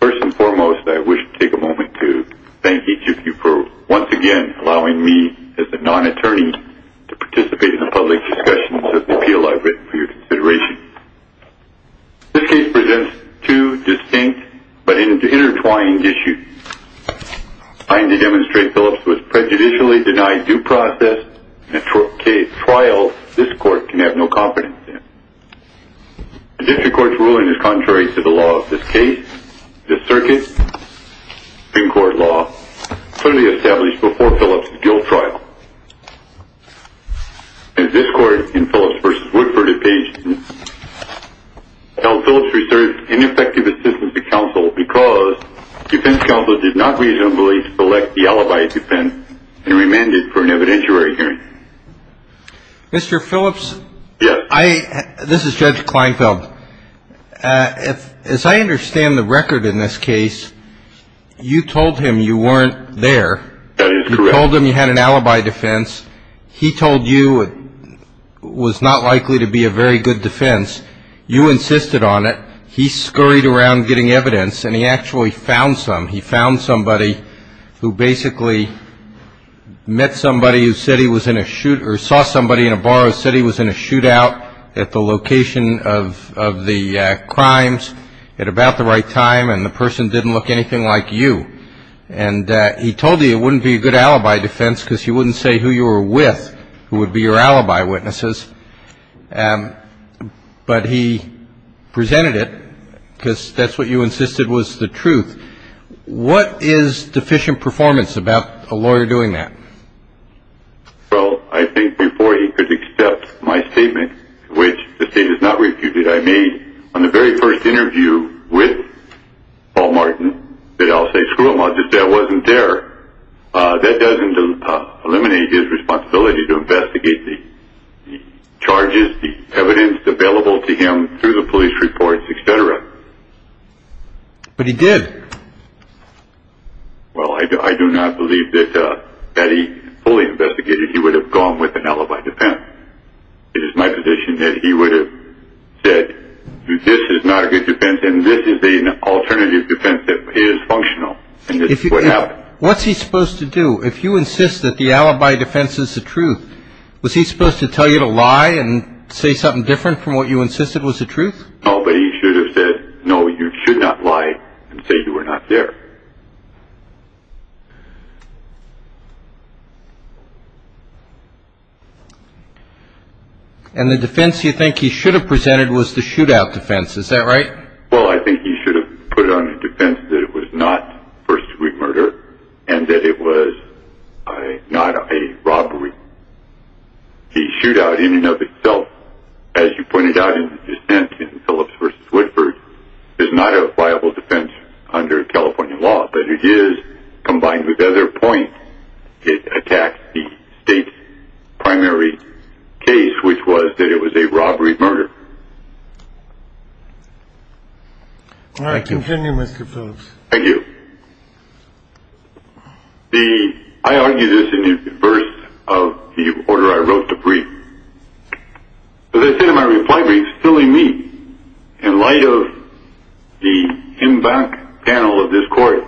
First and foremost, I wish to take a moment to thank each of you for once again allowing me as a non-attorney to participate in the public discussions of the appeal I've written for your consideration. This case presents two distinct but intertwined issues. Trying to demonstrate Phillips was prejudicially denied due process in a trial this court can have no confidence in. The district court's ruling is contrary to the law of this case. The circuit in court law clearly established before Phillips' guilt trial. As this court in Phillips v. Woodford obtained held Phillips reserved ineffective assistance to counsel because defense counsel did not reasonably select the alibi defense and remanded for an evidentiary hearing. Mr. Phillips, this is Judge Kleinfeld. As I understand the record in this case, you told him you weren't there. You told him you had an alibi defense. He told you it was not likely to be a very good defense. You insisted on it. He scurried around getting evidence and he actually found some. He found somebody who basically met somebody who said he was in a shoot or saw somebody in a bar who said he was in a shootout at the location of the crimes at about the right time and the person didn't look anything like you. And he told you it wouldn't be a good alibi defense because he wouldn't say who you were with who would be your alibi witnesses. But he presented it because that's what you insisted was the truth. What is deficient performance about a lawyer doing that? Well, I think before he could accept my statement, which the state has not refuted, I made on the very first interview with Paul Martin that I'll say, screw him, I'll just say I wasn't there. That doesn't eliminate his responsibility to investigate the charges, the evidence available to him through the police reports, etc. But he did. Well, I do not believe that had he fully investigated, he would have gone with an alibi defense. It is my position that he would have said, this is not a good defense and this is alternative defense that is functional. What's he supposed to do if you insist that the alibi defense is the truth? Was he supposed to tell you to lie and say something different from what you insisted was the truth? No, but he should have said, no, you should not lie and say you were not there. And the defense you think he should have presented was the shootout defense. Is that right? Well, I think he should have put it on a defense that it was not first degree murder and that it was not a robbery. The shootout in and of itself, as you pointed out in the dissent in Phillips v. Woodford, is not a viable defense under California law, but it is combined with other points. It attacks the state's primary case, which was that it was a robbery murder. All right, continue, Mr. Phillips. Thank you. I argue this in reverse of the order I wrote the brief. So they sent in my reply brief, filling me in light of the in back panel of this court,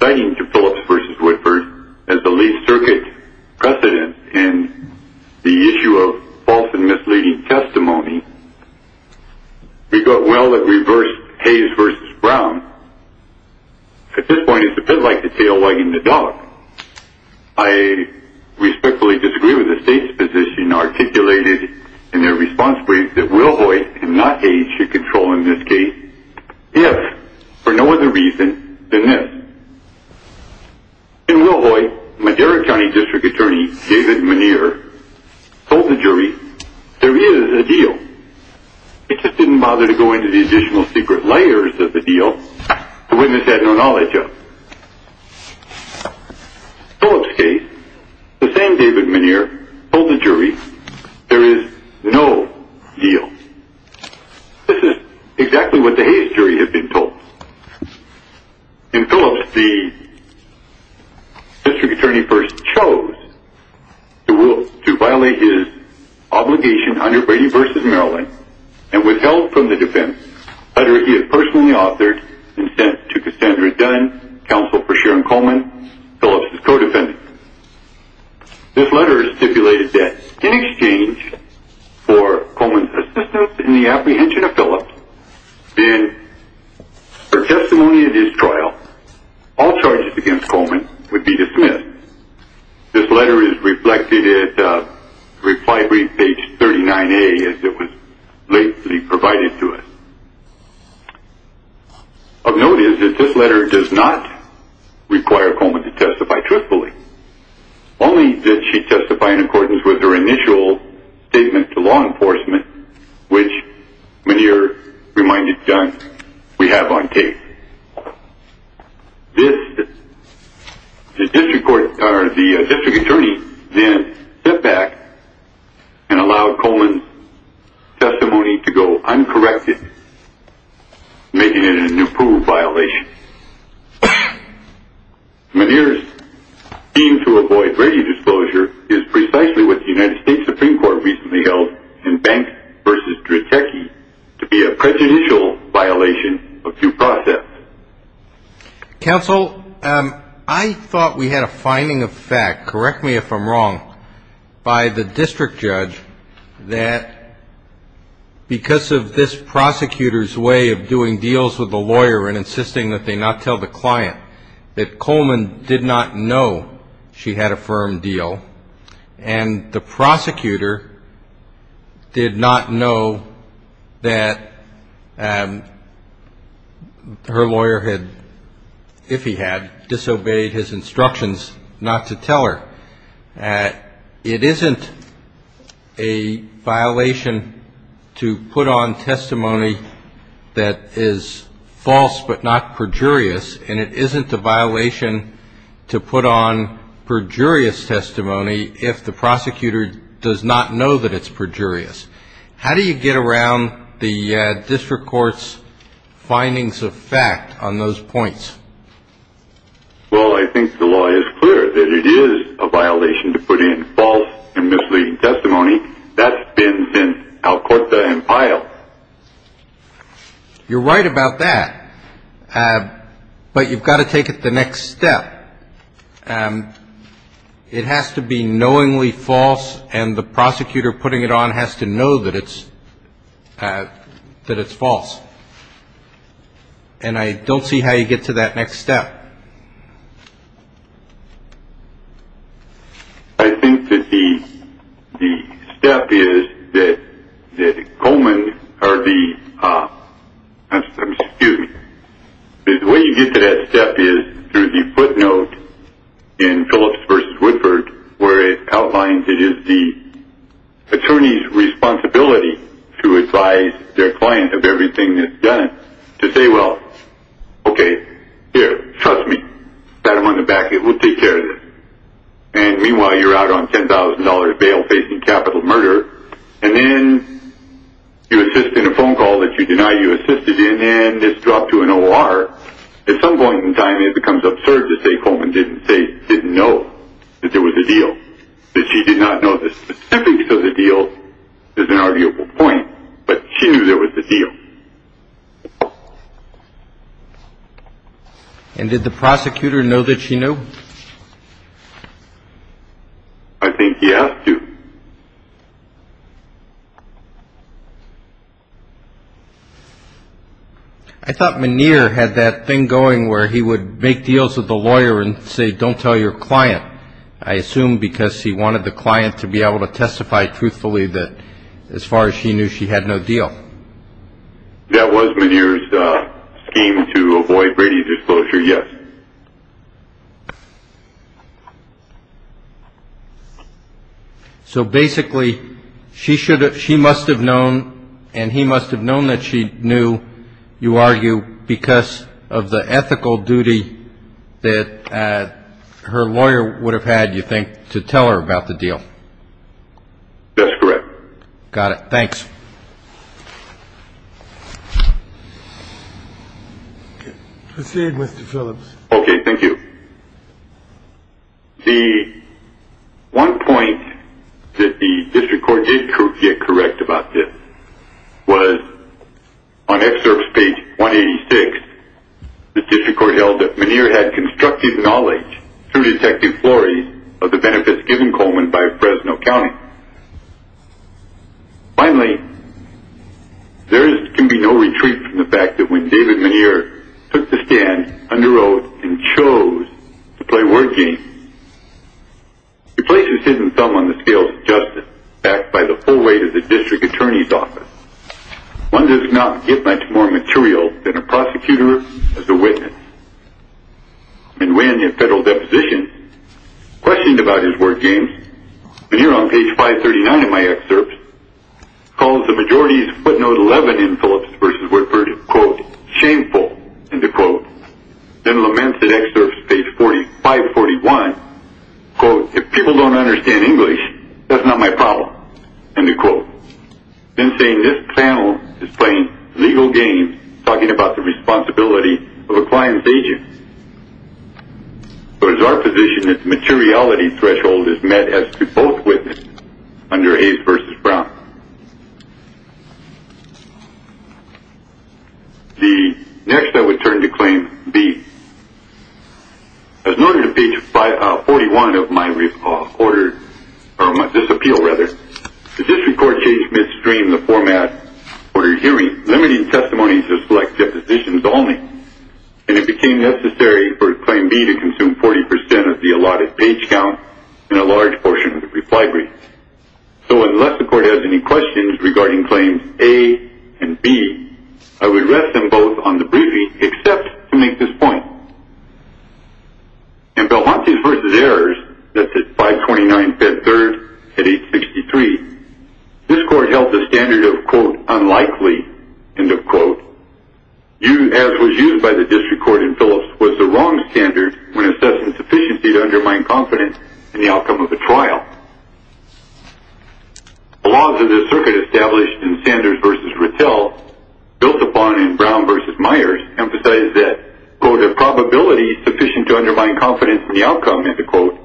citing to Phillips v. Woodford as the least circuit precedent in the issue of false and Hayes v. Brown. At this point, it's a bit like the tail wagging the dog. I respectfully disagree with the state's position articulated in their response brief that Wilhoite and not Hayes should control in this case, if for no other reason than this. In Wilhoite, Madera County District Attorney David Muneer told the jury, there is a deal. He just didn't bother to go into the additional secret layers of the deal. The witness had no knowledge of it. In Phillips' case, the same David Muneer told the jury, there is no deal. This is exactly what the Hayes jury had been told. In Phillips, the and withheld from the defense, a letter he had personally authored and sent to Cassandra Dunn, counsel for Sharon Coleman, Phillips' co-defendant. This letter stipulated that, in exchange for Coleman's assistance in the apprehension of Phillips, in her testimony at his trial, all charges against Coleman would be dismissed. This letter is reflected at reply brief page 39A, as it was lately provided to us. Of note is that this letter does not require Coleman to testify truthfully. Only did she testify in accordance with her initial statement to law enforcement, which Muneer reminded Dunn, we have on tape. This, the district court, or the district attorney, then stepped back and allowed Coleman's testimony to go uncorrected, making it an approved violation. Muneer's scheme to avoid rating disclosure is precisely what the United States Supreme Court recently held in Banks v. Dratecki to be a prejudicial violation of due process. Counsel, I thought we had a finding of fact, correct me if I'm wrong, by the district judge that because of this prosecutor's way of doing deals with the lawyer and insisting that they tell the client that Coleman did not know she had a firm deal and the prosecutor did not know that her lawyer had, if he had, disobeyed his instructions not to tell her. It isn't a violation to put on testimony that is false but not perjurious, and it isn't a violation to put on perjurious testimony if the prosecutor does not know that it's perjurious. How do you get around the district court's findings of fact on those points? Well, I think the law is clear that it is a violation to put in false and misleading testimony. That's been since Alcorta and Pyle. You're right about that, but you've got to take it the next step. It has to be knowingly false, and the prosecutor putting it on has to know that it's false. And I don't see how you get to that next step. I think that the step is that Coleman or the, I'm skewed, the way you get to that step is through the footnote in Phillips v. Woodford where it outlines it is the attorney's responsibility to advise their client of everything that's done to say, well, okay, here, trust me, pat him on the back, we'll take care of this. And meanwhile, you're out on $10,000 bail facing capital murder, and then you assist in a phone call that you deny you assisted in, and this dropped to an O.R. At some point in time, it becomes absurd to say Coleman didn't know that there was a deal, that she did not know the specifics of the deal is an arguable point, but she knew there was a deal. And did the prosecutor know that she knew? I think he asked to. I thought Muneer had that thing going where he would make deals with the lawyer and say, don't tell your client. I assume because he wanted the client to be able to testify truthfully that as far as she knew, she had no deal. That was Muneer's scheme to avoid Brady's disclosure, yes. So basically, she must have known and he must have known that she knew, you argue, because of the ethical duty that her lawyer would have had, you think, to tell her about the deal? That's correct. Got it. Thanks. Proceed, Mr. Phillips. Okay, thank you. The one point that the district court did get correct about this was on excerpt page 186. The district court held that Muneer had constructive knowledge through detective Flores of the benefits given Coleman by Fresno County. Finally, there can be no retreat from the fact that when David Muneer took the stand, underwrote, and chose to play word games, he places his thumb on the scales of justice backed by the full weight of the district attorney's office. One does not get much more material than a prosecutor as a witness. And when a federal deposition questioned about his word games, Muneer on page 539 of my excerpts calls the majority's in the quote. Then laments in excerpt page 541, quote, if people don't understand English, that's not my problem, end of quote. Then saying this panel is playing legal games, talking about the responsibility of a client's agent. But it's our position that the materiality threshold is met as to both witnesses under the law. The next I would turn to claim B. As noted on page 41 of my order, or my disappeal rather, the district court changed midstream the format, ordered hearing, limiting testimony to select depositions only. And it became necessary for claim B to consume 40% of the allotted page count in a large portion of the reply brief. So unless the court has any questions regarding claims A and B, I would rest them both on the briefing except to make this point. In Belmontes v. Errors, that's at 529 Bed 3rd at 863, this court held the standard of quote, unlikely, end of quote. As was used by the district court in Phillips was the wrong standard when assessing sufficiency to undermine confidence in the outcome of a trial. The laws of this circuit established in Sanders v. Rittel, built upon in Brown v. Meyers, emphasized that quote, a probability sufficient to undermine confidence in the outcome, end of quote,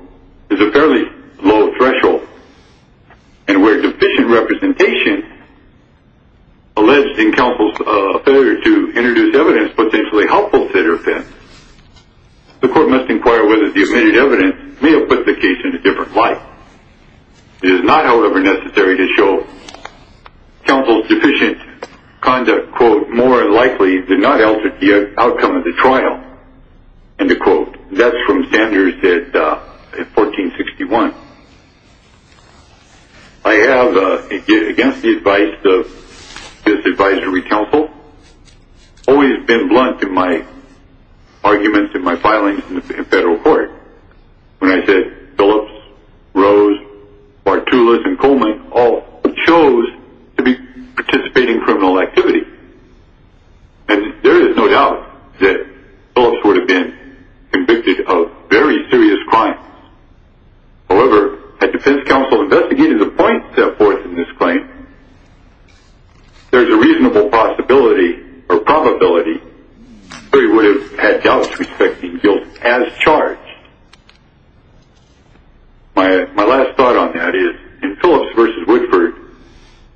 is a fairly low threshold. And where deficient representation, alleged in counsel's failure to inquire whether the evidence may have put the case in a different light. It is not, however, necessary to show counsel's deficient conduct, quote, more likely did not alter the outcome of the trial, end of quote. That's from Sanders at 1461. I have, again, the advice of this advisory counsel, always been blunt in my arguments and my filings in the federal court. When I said Phillips, Rose, Bartulas, and Coleman all chose to be participating in criminal activity. And there is no doubt that Phillips would have been convicted of very serious crimes. However, at defense counsel investigating the point set forth in this claim, there's a reasonable possibility or probability that he would have had doubts respecting guilt as charged. My last thought on that is in Phillips v. Woodford,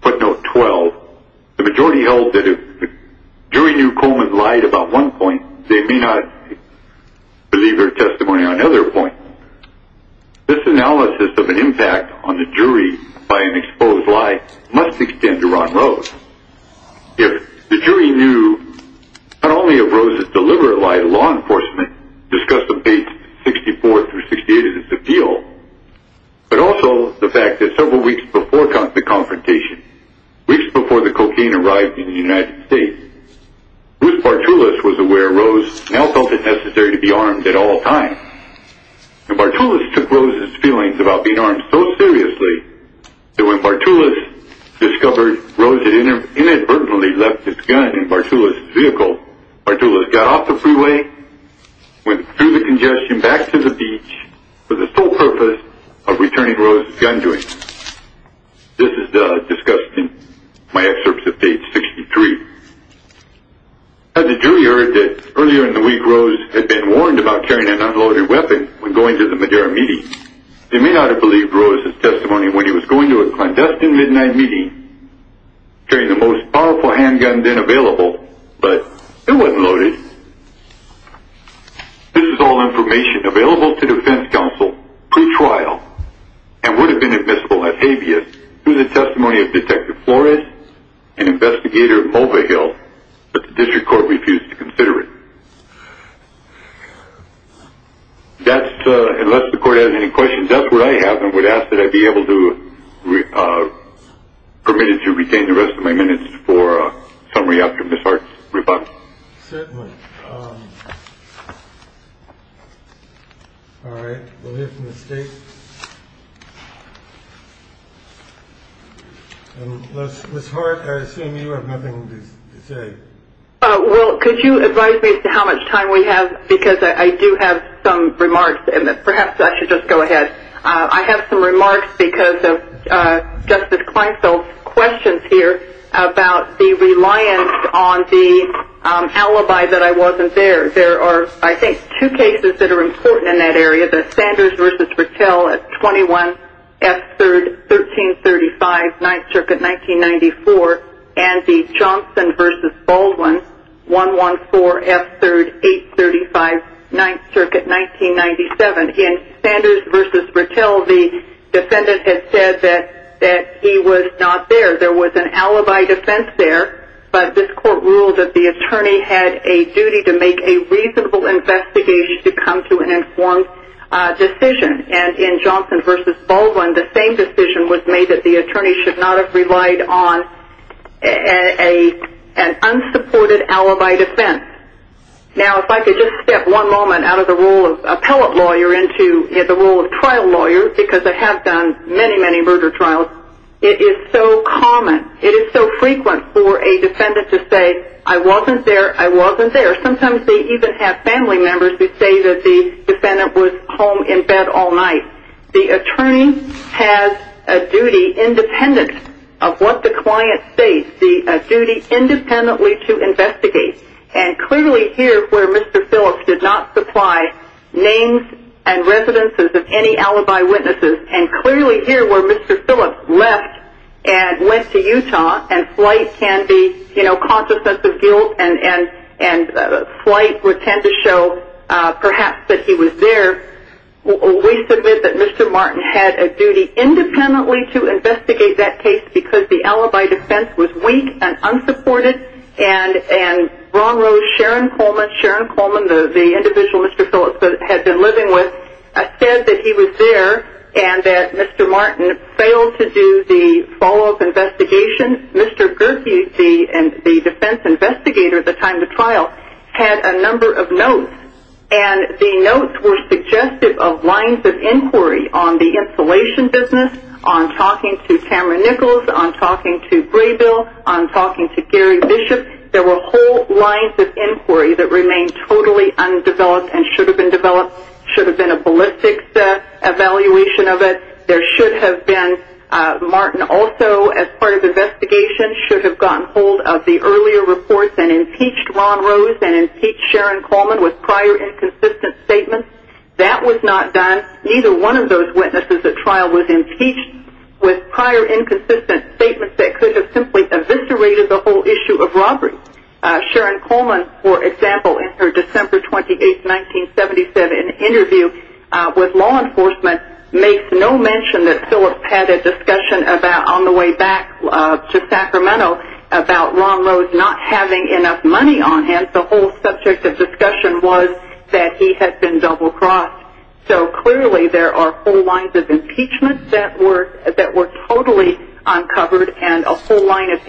footnote 12, the majority held that if the jury knew Coleman lied about one point, they may not believe their testimony on another point. This analysis of an impact on the jury by an exposed lie must extend to Ron Rose. If the jury knew not only of Rose's deliberate lie to law enforcement, discussed the page 64 through 68 of this appeal, but also the fact that several weeks before the confrontation, weeks before the cocaine arrived in the United States, Bruce Bartulas was aware Rose now felt it necessary to be armed at all times. And Bartulas took Rose's feelings about being armed so seriously that when Bartulas discovered Rose had inadvertently left his gun in Bartulas's vehicle, Bartulas got off the freeway, went through the congestion back to the beach for the sole purpose of returning Rose's gun to him. This is discussed in my excerpts of page 63. As the jury heard that earlier in the week Rose had been warned about carrying an unloaded weapon when going to the Madera meeting, they may not have believed Rose's testimony when he was going to a clandestine midnight meeting carrying the most powerful handgun then available, but it wasn't loaded. This is all information available to defense counsel pre-trial and would have been admissible as habeas to the testimony of Detective Flores and Investigator Mulvihill, but the district court refused to consider it. That's, unless the court has any questions, that's what I have and would ask that I be able to be permitted to retain the rest of my minutes for a summary after Ms. Hart's certainly. All right, we'll hear from the state. And Ms. Hart, I assume you have nothing to say. Well, could you advise me as to how much time we have because I do have some remarks and perhaps I should just go ahead. I have some remarks because Justice Kleinfeld's questions here about the reliance on the alibi that I wasn't there. There are, I think, two cases that are important in that area, the Sanders v. Rattel at 21 F. 3rd, 1335, 9th Circuit, 1994 and the Johnson v. Baldwin, 114 F. 3rd, 835, 9th Circuit, 1997. In that case, the attorney said that he was not there. There was an alibi defense there, but this court ruled that the attorney had a duty to make a reasonable investigation to come to an informed decision. And in Johnson v. Baldwin, the same decision was made that the attorney should not have relied on an unsupported alibi defense. Now, if I could just step one moment out of the role of appellate lawyer into the role of trial lawyer because I have done many, many murder trials, it is so common, it is so frequent for a defendant to say, I wasn't there, I wasn't there. Sometimes they even have family members who say that the defendant was home in bed all night. The attorney has a duty independent of what the client states, the duty independently to investigate. And clearly here where Mr. Phillips did not supply names and residences of any alibi witnesses, and clearly here where Mr. Phillips left and went to Utah, and flight can be, you know, consciousness of guilt and flight would tend to show perhaps that he was there, we submit that Mr. Martin had a duty independently to investigate that case because the alibi defense was weak and unsupported. And Ron Rose, Sharon Coleman, the individual Mr. Phillips had been living with, said that he was there and that Mr. Martin failed to do the follow-up investigation. Mr. Gerke, the defense investigator at the time of trial, had a number of notes and the notes were suggestive of lines of inquiry on the installation business, on talking to Cameron Nichols, on talking to Braybill, on talking to Gary Bishop. There were whole lines of inquiry that remained totally undeveloped and should have been developed, should have been a ballistics evaluation of it. There should have been, Martin also as part of investigation should have gotten hold of the earlier reports and impeached Ron Rose and impeached Sharon Coleman with prior inconsistent statements. That was not done. Neither one of those witnesses at trial was impeached with prior inconsistent statements that could have simply eviscerated the whole issue of Ron Rose. Sharon Coleman, for example, in her December 28, 1977, interview with law enforcement makes no mention that Phillips had a discussion on the way back to Sacramento about Ron Rose not having enough money on him. The whole subject of discussion was that he had been double-crossed. So clearly there are whole lines of impeachment that were totally uncovered and a whole line of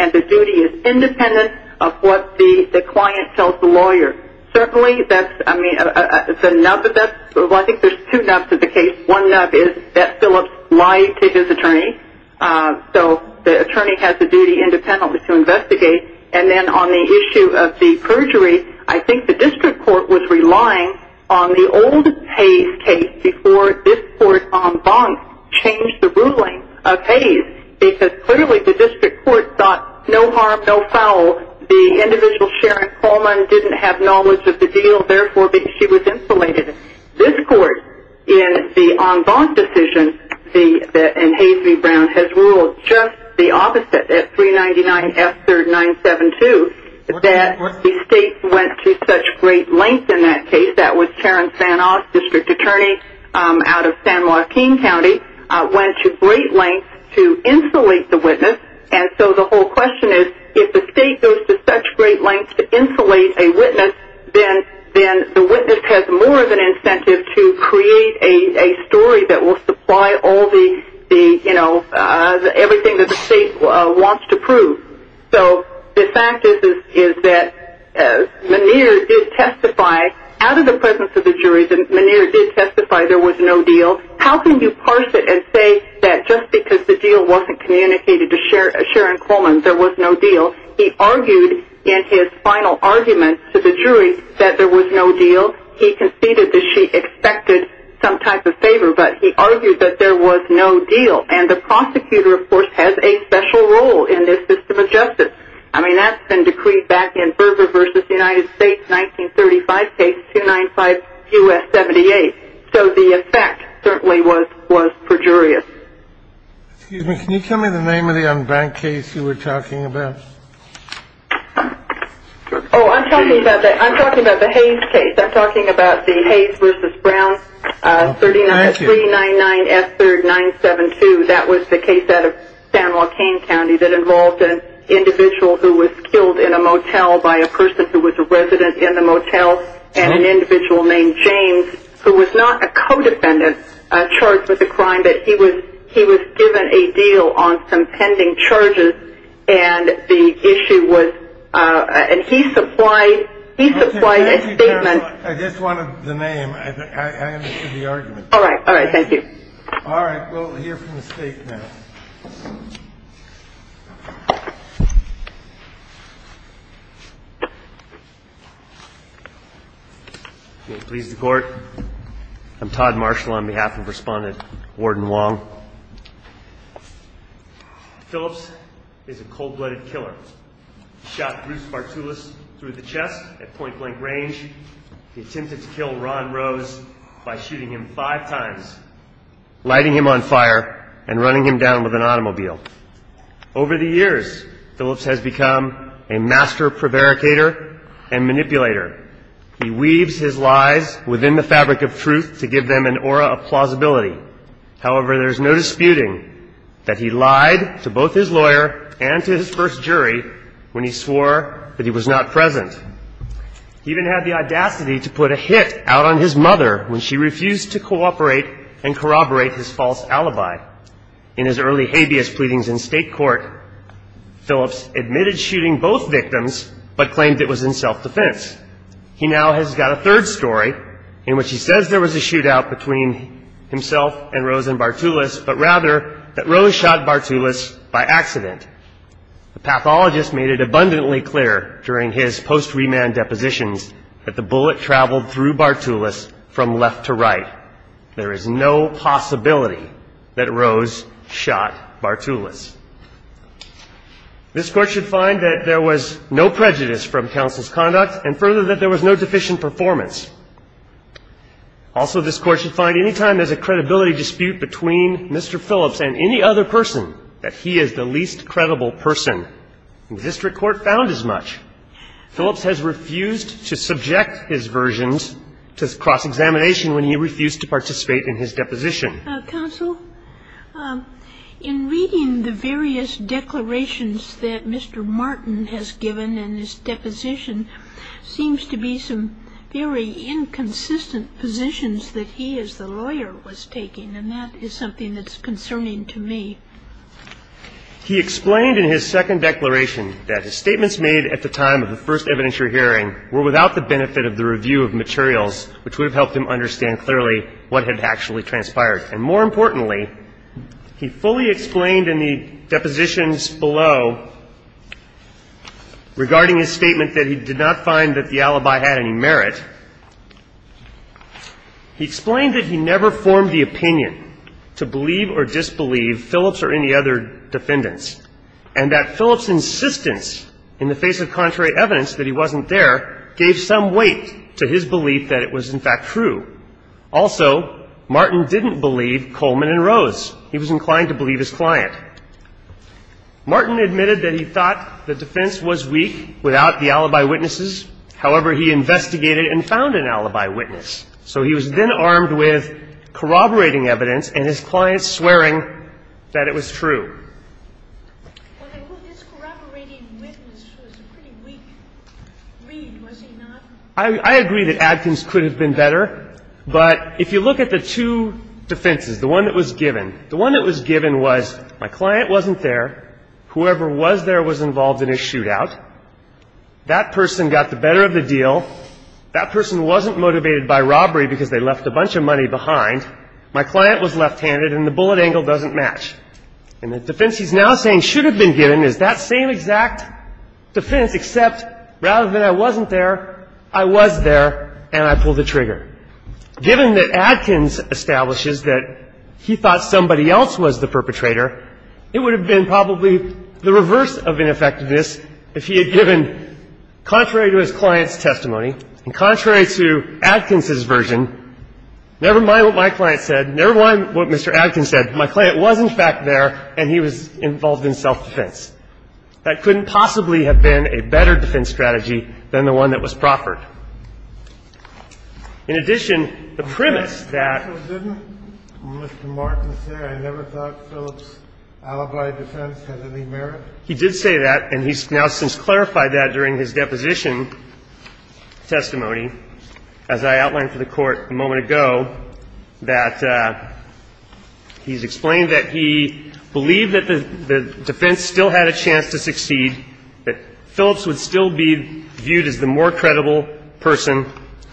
and the duty is independent of what the client tells the lawyer. Certainly that's, I mean, I think there's two nubs of the case. One nub is that Phillips lied to his attorney. So the attorney has the duty independently to investigate. And then on the issue of the perjury, I think the district court was relying on the old Hayes case before this court en banc changed the ruling of Hayes because clearly the district court thought no harm, no foul. The individual, Sharon Coleman, didn't have knowledge of the deal. Therefore, she was insulated. This court in the en banc decision, in Hayes v. Brown, has ruled just the opposite at 399 F-3972 that the state went to such great lengths in that case. That was Terrence Van Oss, district attorney out of San Joaquin County, went to great lengths to insulate the witness. And so the whole question is, if the state goes to such great lengths to insulate a witness, then the witness has more of an incentive to create a story that will supply everything that the state wants to prove. So the fact is that Muneer did testify out of the presence of the jury. Muneer did testify there was no deal. How can you parse it and say that just because the deal wasn't communicated to Sharon Coleman, there was no deal? He argued in his final argument to the jury that there was no deal. He conceded that she expected some type of favor, but he argued that there was no deal. And the prosecutor, of course, has a special role in this system of U.S. 78. So the effect certainly was perjurious. Excuse me, can you tell me the name of the unbanked case you were talking about? Oh, I'm talking about the Hayes case. I'm talking about the Hayes v. Brown, 399 F-3972. That was the case out of San Joaquin County that involved an individual who was killed in a motel by a person who was a resident in the motel and an individual named James, who was not a co-defendant charged with the crime, but he was given a deal on some pending charges. And the issue was, and he supplied a statement. I just wanted the name. I understood the argument. All right. All right. Thank you. All right. We'll hear from the state now. May it please the court. I'm Todd Marshall on behalf of Respondent Warden Wong. Phillips is a cold-blooded killer. He shot Bruce Bartulis through the chest at point-blank range. He attempted to kill Ron Rose by shooting him five times, lighting him on fire, and running him down with an automobile. Over the years, Phillips has become a master prevaricator and manipulator. He weaves his lies within the fabric of truth to give them an aura of plausibility. However, there's no disputing that he lied to both his lawyer and to his first jury when he swore that he was not present. He even had the audacity to put a hit out on his mother when she refused to cooperate and corroborate his false alibi. In his early habeas pleadings in state court, Phillips admitted shooting both victims but claimed it was in self-defense. He now has got a third story in which he says there was a shootout between himself and Rose and Bartulis, but rather that Rose shot Bartulis by accident. The pathologist made it abundantly clear during his post-remand depositions that the bullet traveled through Bartulis from left to right. There is no possibility that Rose shot Bartulis. This Court should find that there was no prejudice from counsel's conduct, and further, that there was no deficient performance. Also, this Court should find any time there's a credibility dispute between Mr. Phillips and any other person that he is the least credible person. The district court found as much. Phillips has refused to subject his versions to cross-examination when he refused to participate in his deposition. Counsel, in reading the various declarations that Mr. Martin has given in his deposition, seems to be some very inconsistent positions that he as the lawyer was taking, and that is something that's concerning to me. He explained in his second declaration that his statements made at the time of the first evidentiary hearing were without the benefit of the review of materials, which would have helped him understand clearly what had actually transpired. And more importantly, he fully explained in the depositions below regarding his statement that he did not find that the alibi had any merit. He explained that he never formed the opinion to believe or disbelieve Phillips or any other defendants, and that Phillips' insistence in the face of contrary evidence that he wasn't there gave some weight to his belief that it was, in fact, true. Also, Martin didn't believe Coleman and Rose. He was inclined to believe his client. Martin admitted that he thought the defense was weak without the alibi witnesses. However, he investigated and found an alibi witness. So he was then armed with corroborating evidence and his client swearing that it was true. Well, this corroborating witness was a pretty weak read, was he not? I agree that Adkins could have been better, but if you look at the two defenses, the one that was given, the one that was given was my client wasn't there, whoever was there was involved in a shootout, that person got the better of the deal, that person wasn't motivated by robbery because they left a bunch of money behind, my client was left-handed, and the bullet angle doesn't match. And the defense he's now saying should have been given is that same exact defense, except rather than I wasn't there, I was there and I pulled the trigger. Given that Adkins establishes that he thought somebody else was the perpetrator, it would have been probably the reverse of ineffectiveness if he had given, contrary to his client's testimony and contrary to Adkins' version, never mind what my client said, never mind what Mr. Adkins said. My client was, in fact, there and he was involved in self-defense. That couldn't possibly have been a better defense strategy than the one that was proffered. In addition, the premise that Mr. Martin said I never thought Phillips' alibi defense had any merit, he did say that and he's now since clarified that during his deposition testimony, as I outlined for the Court a moment ago, that he's explained that he believed that the defense still had a chance to succeed, that Phillips would still be viewed as the more credible person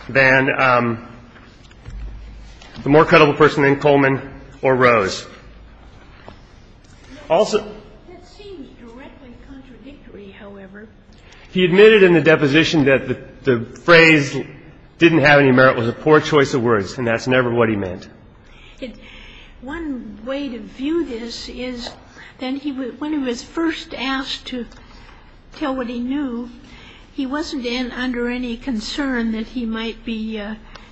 than Coleman or Rose. Also, that seems directly contradictory, however. He admitted in the deposition that the phrase didn't have any merit was a poor choice of words and that's never what he meant. One way to view this is when he was first asked to tell what he knew, he wasn't under any concern that he might be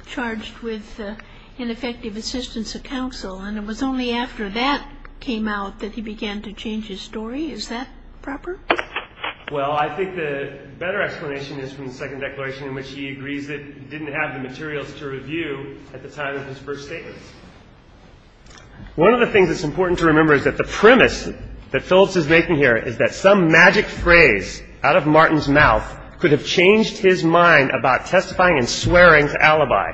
charged with ineffective assistance of counsel and it was only after that came out that he began to change his story. Is that proper? Well, I think the better explanation is from the second declaration in which he agrees that he didn't have the materials to review at the time of his first statements. One of the things that's important to remember is that the premise that Phillips is making here is that some magic phrase out of Martin's mouth could have changed his mind about testifying and swearing to alibi.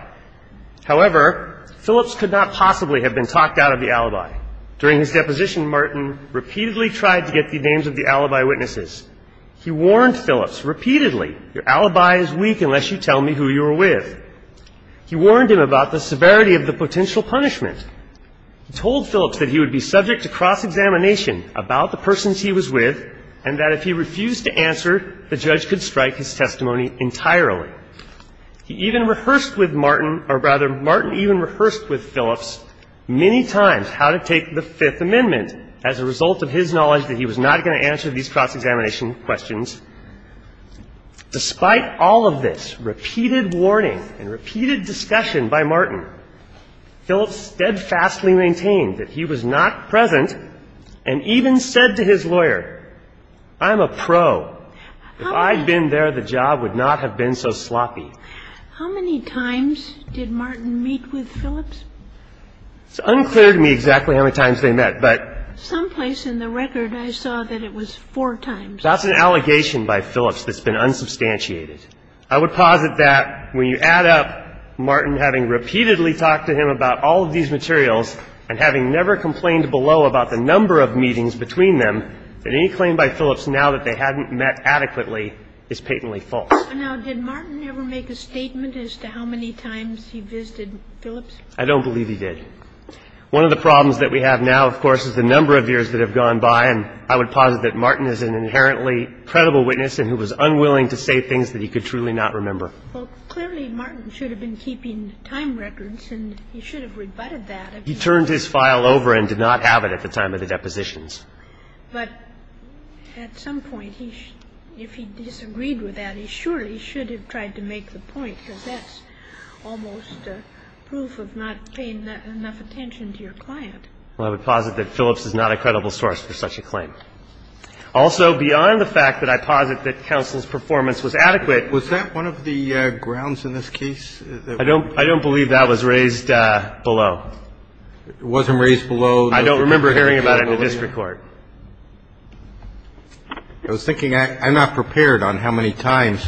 However, Phillips could not possibly have been talked out of the alibi. During his deposition, Martin repeatedly tried to get the names of the alibi witnesses. He warned Phillips repeatedly, your alibi is weak unless you tell me who you were with. He warned him about the severity of the potential punishment. He told Phillips that he would be subject to cross-examination about the persons he was with and that if he refused to answer, the judge could strike his testimony entirely. He even rehearsed with Martin or rather Martin even rehearsed with Phillips many times how to take the Fifth Amendment as a result of his knowledge that he was not going to answer these cross-examination questions. Despite all of this repeated warning and repeated discussion by Martin, Phillips steadfastly maintained that he was not present and even said to his lawyer, I'm a pro. If I'd been there, the job would not have been so sloppy. How many times did Martin meet with Phillips? It's unclear to me exactly how many times they met, but. Someplace in the record, I saw that it was four times. That's an allegation by Phillips that's been unsubstantiated. I would posit that when you add up Martin having repeatedly talked to him about all of these materials and having never complained below about the number of meetings between them, that any claim by Phillips now that they hadn't met adequately is patently false. Now, did Martin ever make a statement as to how many times he visited Phillips? I don't believe he did. One of the problems that we have now, of course, is the number of years that have gone by, and I would posit that Martin is an inherently credible witness and who was unwilling to say things that he could truly not remember. Well, clearly Martin should have been keeping time records, and he should have rebutted that. He turned his file over and did not have it at the time of the depositions. But at some point, if he disagreed with that, he surely should have tried to make the point, because that's almost proof of not paying enough attention to your client. Well, I would posit that Phillips is not a credible source for such a claim. Also, beyond the fact that I posit that counsel's performance was adequate. Was that one of the grounds in this case? I don't believe that was raised below. It wasn't raised below? I don't remember hearing about it in the district court. I was thinking, I'm not prepared on how many times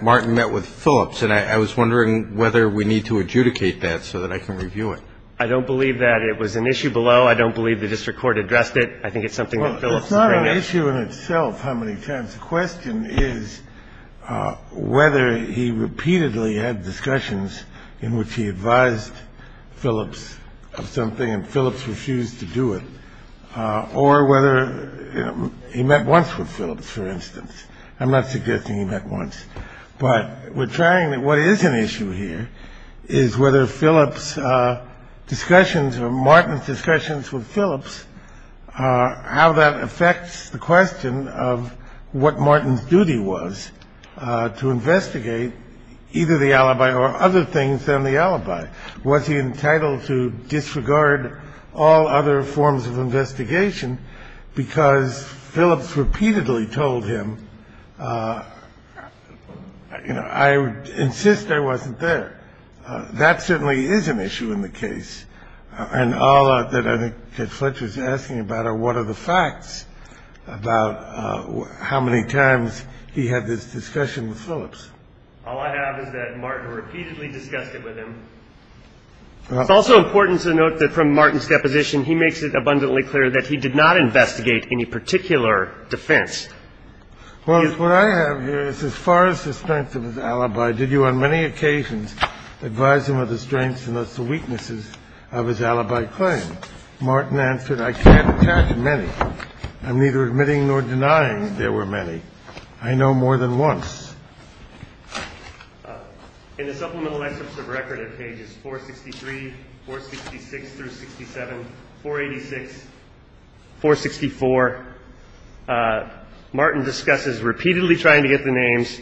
Martin met with Phillips, and I was wondering whether we need to adjudicate that so that I can review it. I don't believe that it was an issue below. I don't believe the district court addressed it. I think it's something that Phillips can bring up. Well, it's not an issue in itself how many times. The question is whether he repeatedly had discussions in which he advised Phillips of something, and Phillips refused to do it. Or whether he met once with Phillips, for instance. I'm not suggesting he met once. But we're trying to, what is an issue here is whether Phillips' discussions or Martin's discussions with Phillips, how that affects the question of what Martin's duty was to investigate either the alibi or other things than the alibi. Was he entitled to disregard all other forms of investigation? Because Phillips repeatedly told him, I insist I wasn't there. That certainly is an issue in the case. And all that I think that Fletcher's asking about are what are the facts about how many times he had this discussion with Phillips? All I have is that Martin repeatedly discussed it with him. It's also important to note that from Martin's deposition, he makes it abundantly clear that he did not investigate any particular defense. Well, what I have here is as far as suspense of his alibi, did you on many occasions advise him of the strengths and thus the weaknesses of his alibi claim? Martin answered, I can't attach many. I'm neither admitting nor denying there were many. I know more than once. In the supplemental excerpts of record at pages 463, 466 through 67, 486, 464, Martin discusses repeatedly trying to get the names,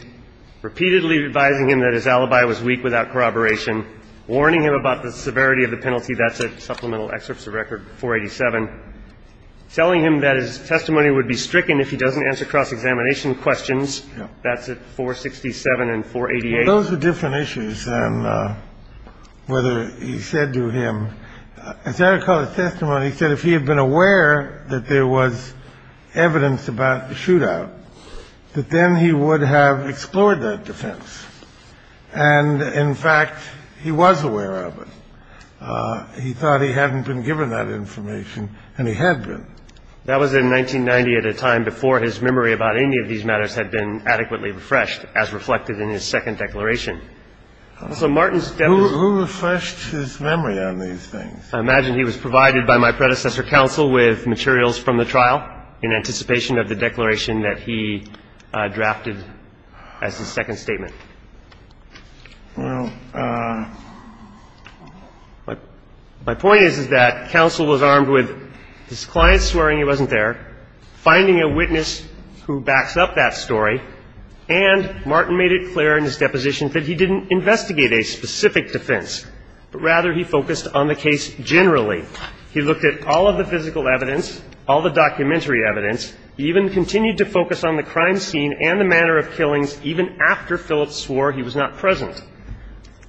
repeatedly advising him that his alibi was weak without corroboration, warning him about the severity of the penalty. That's a supplemental excerpts of record 487. Telling him that his testimony would be stricken if he doesn't answer cross-examination questions. That's at 467 and 488. Those are different issues. And whether he said to him, as I recall his testimony, he said if he had been aware that there was evidence about the shootout, that then he would have explored that defense. And in fact, he was aware of it. He thought he hadn't been given that information, and he had been. That was in 1990 at a time before his memory about any of these matters had been adequately refreshed, as reflected in his second declaration. So Martin's definition... Who refreshed his memory on these things? I imagine he was provided by my predecessor counsel with materials from the trial in anticipation of the declaration that he drafted as his second statement. Well, my point is that counsel was armed with his client swearing he wasn't there, finding a witness who backs up that story, and Martin made it clear in his deposition that he didn't investigate a specific defense, but rather he focused on the case generally. He looked at all of the physical evidence, all the documentary evidence. He even continued to focus on the crime scene and the manner of killings even after Phillips swore he was not present.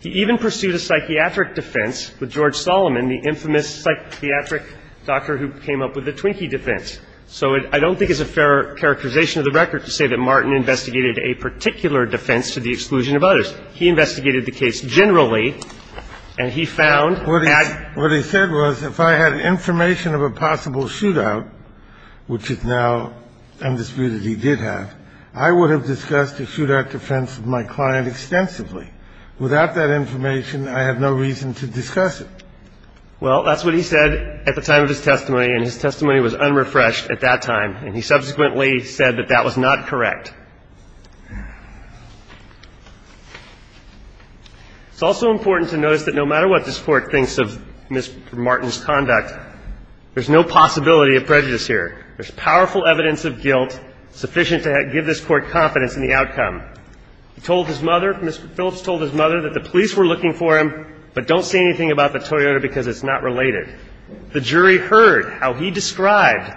He even pursued a psychiatric defense with George Solomon, the infamous psychiatric doctor who came up with the Twinkie defense. So I don't think it's a fair characterization of the record to say that Martin investigated a particular defense to the exclusion of others. He investigated the case generally, and he found that... What he said was if I had information of a possible shootout, which is now undisputed as he did have, I would have discussed a shootout defense with my client extensively. Without that information, I have no reason to discuss it. Well, that's what he said at the time of his testimony, and his testimony was unrefreshed at that time, and he subsequently said that that was not correct. It's also important to notice that no matter what this Court thinks of Mr. Martin's conduct, there's no possibility of prejudice here. There's powerful evidence of guilt sufficient to give this Court confidence in the outcome. He told his mother, Mr. Phillips told his mother that the police were looking for him, but don't say anything about the Toyota because it's not related. The jury heard how he described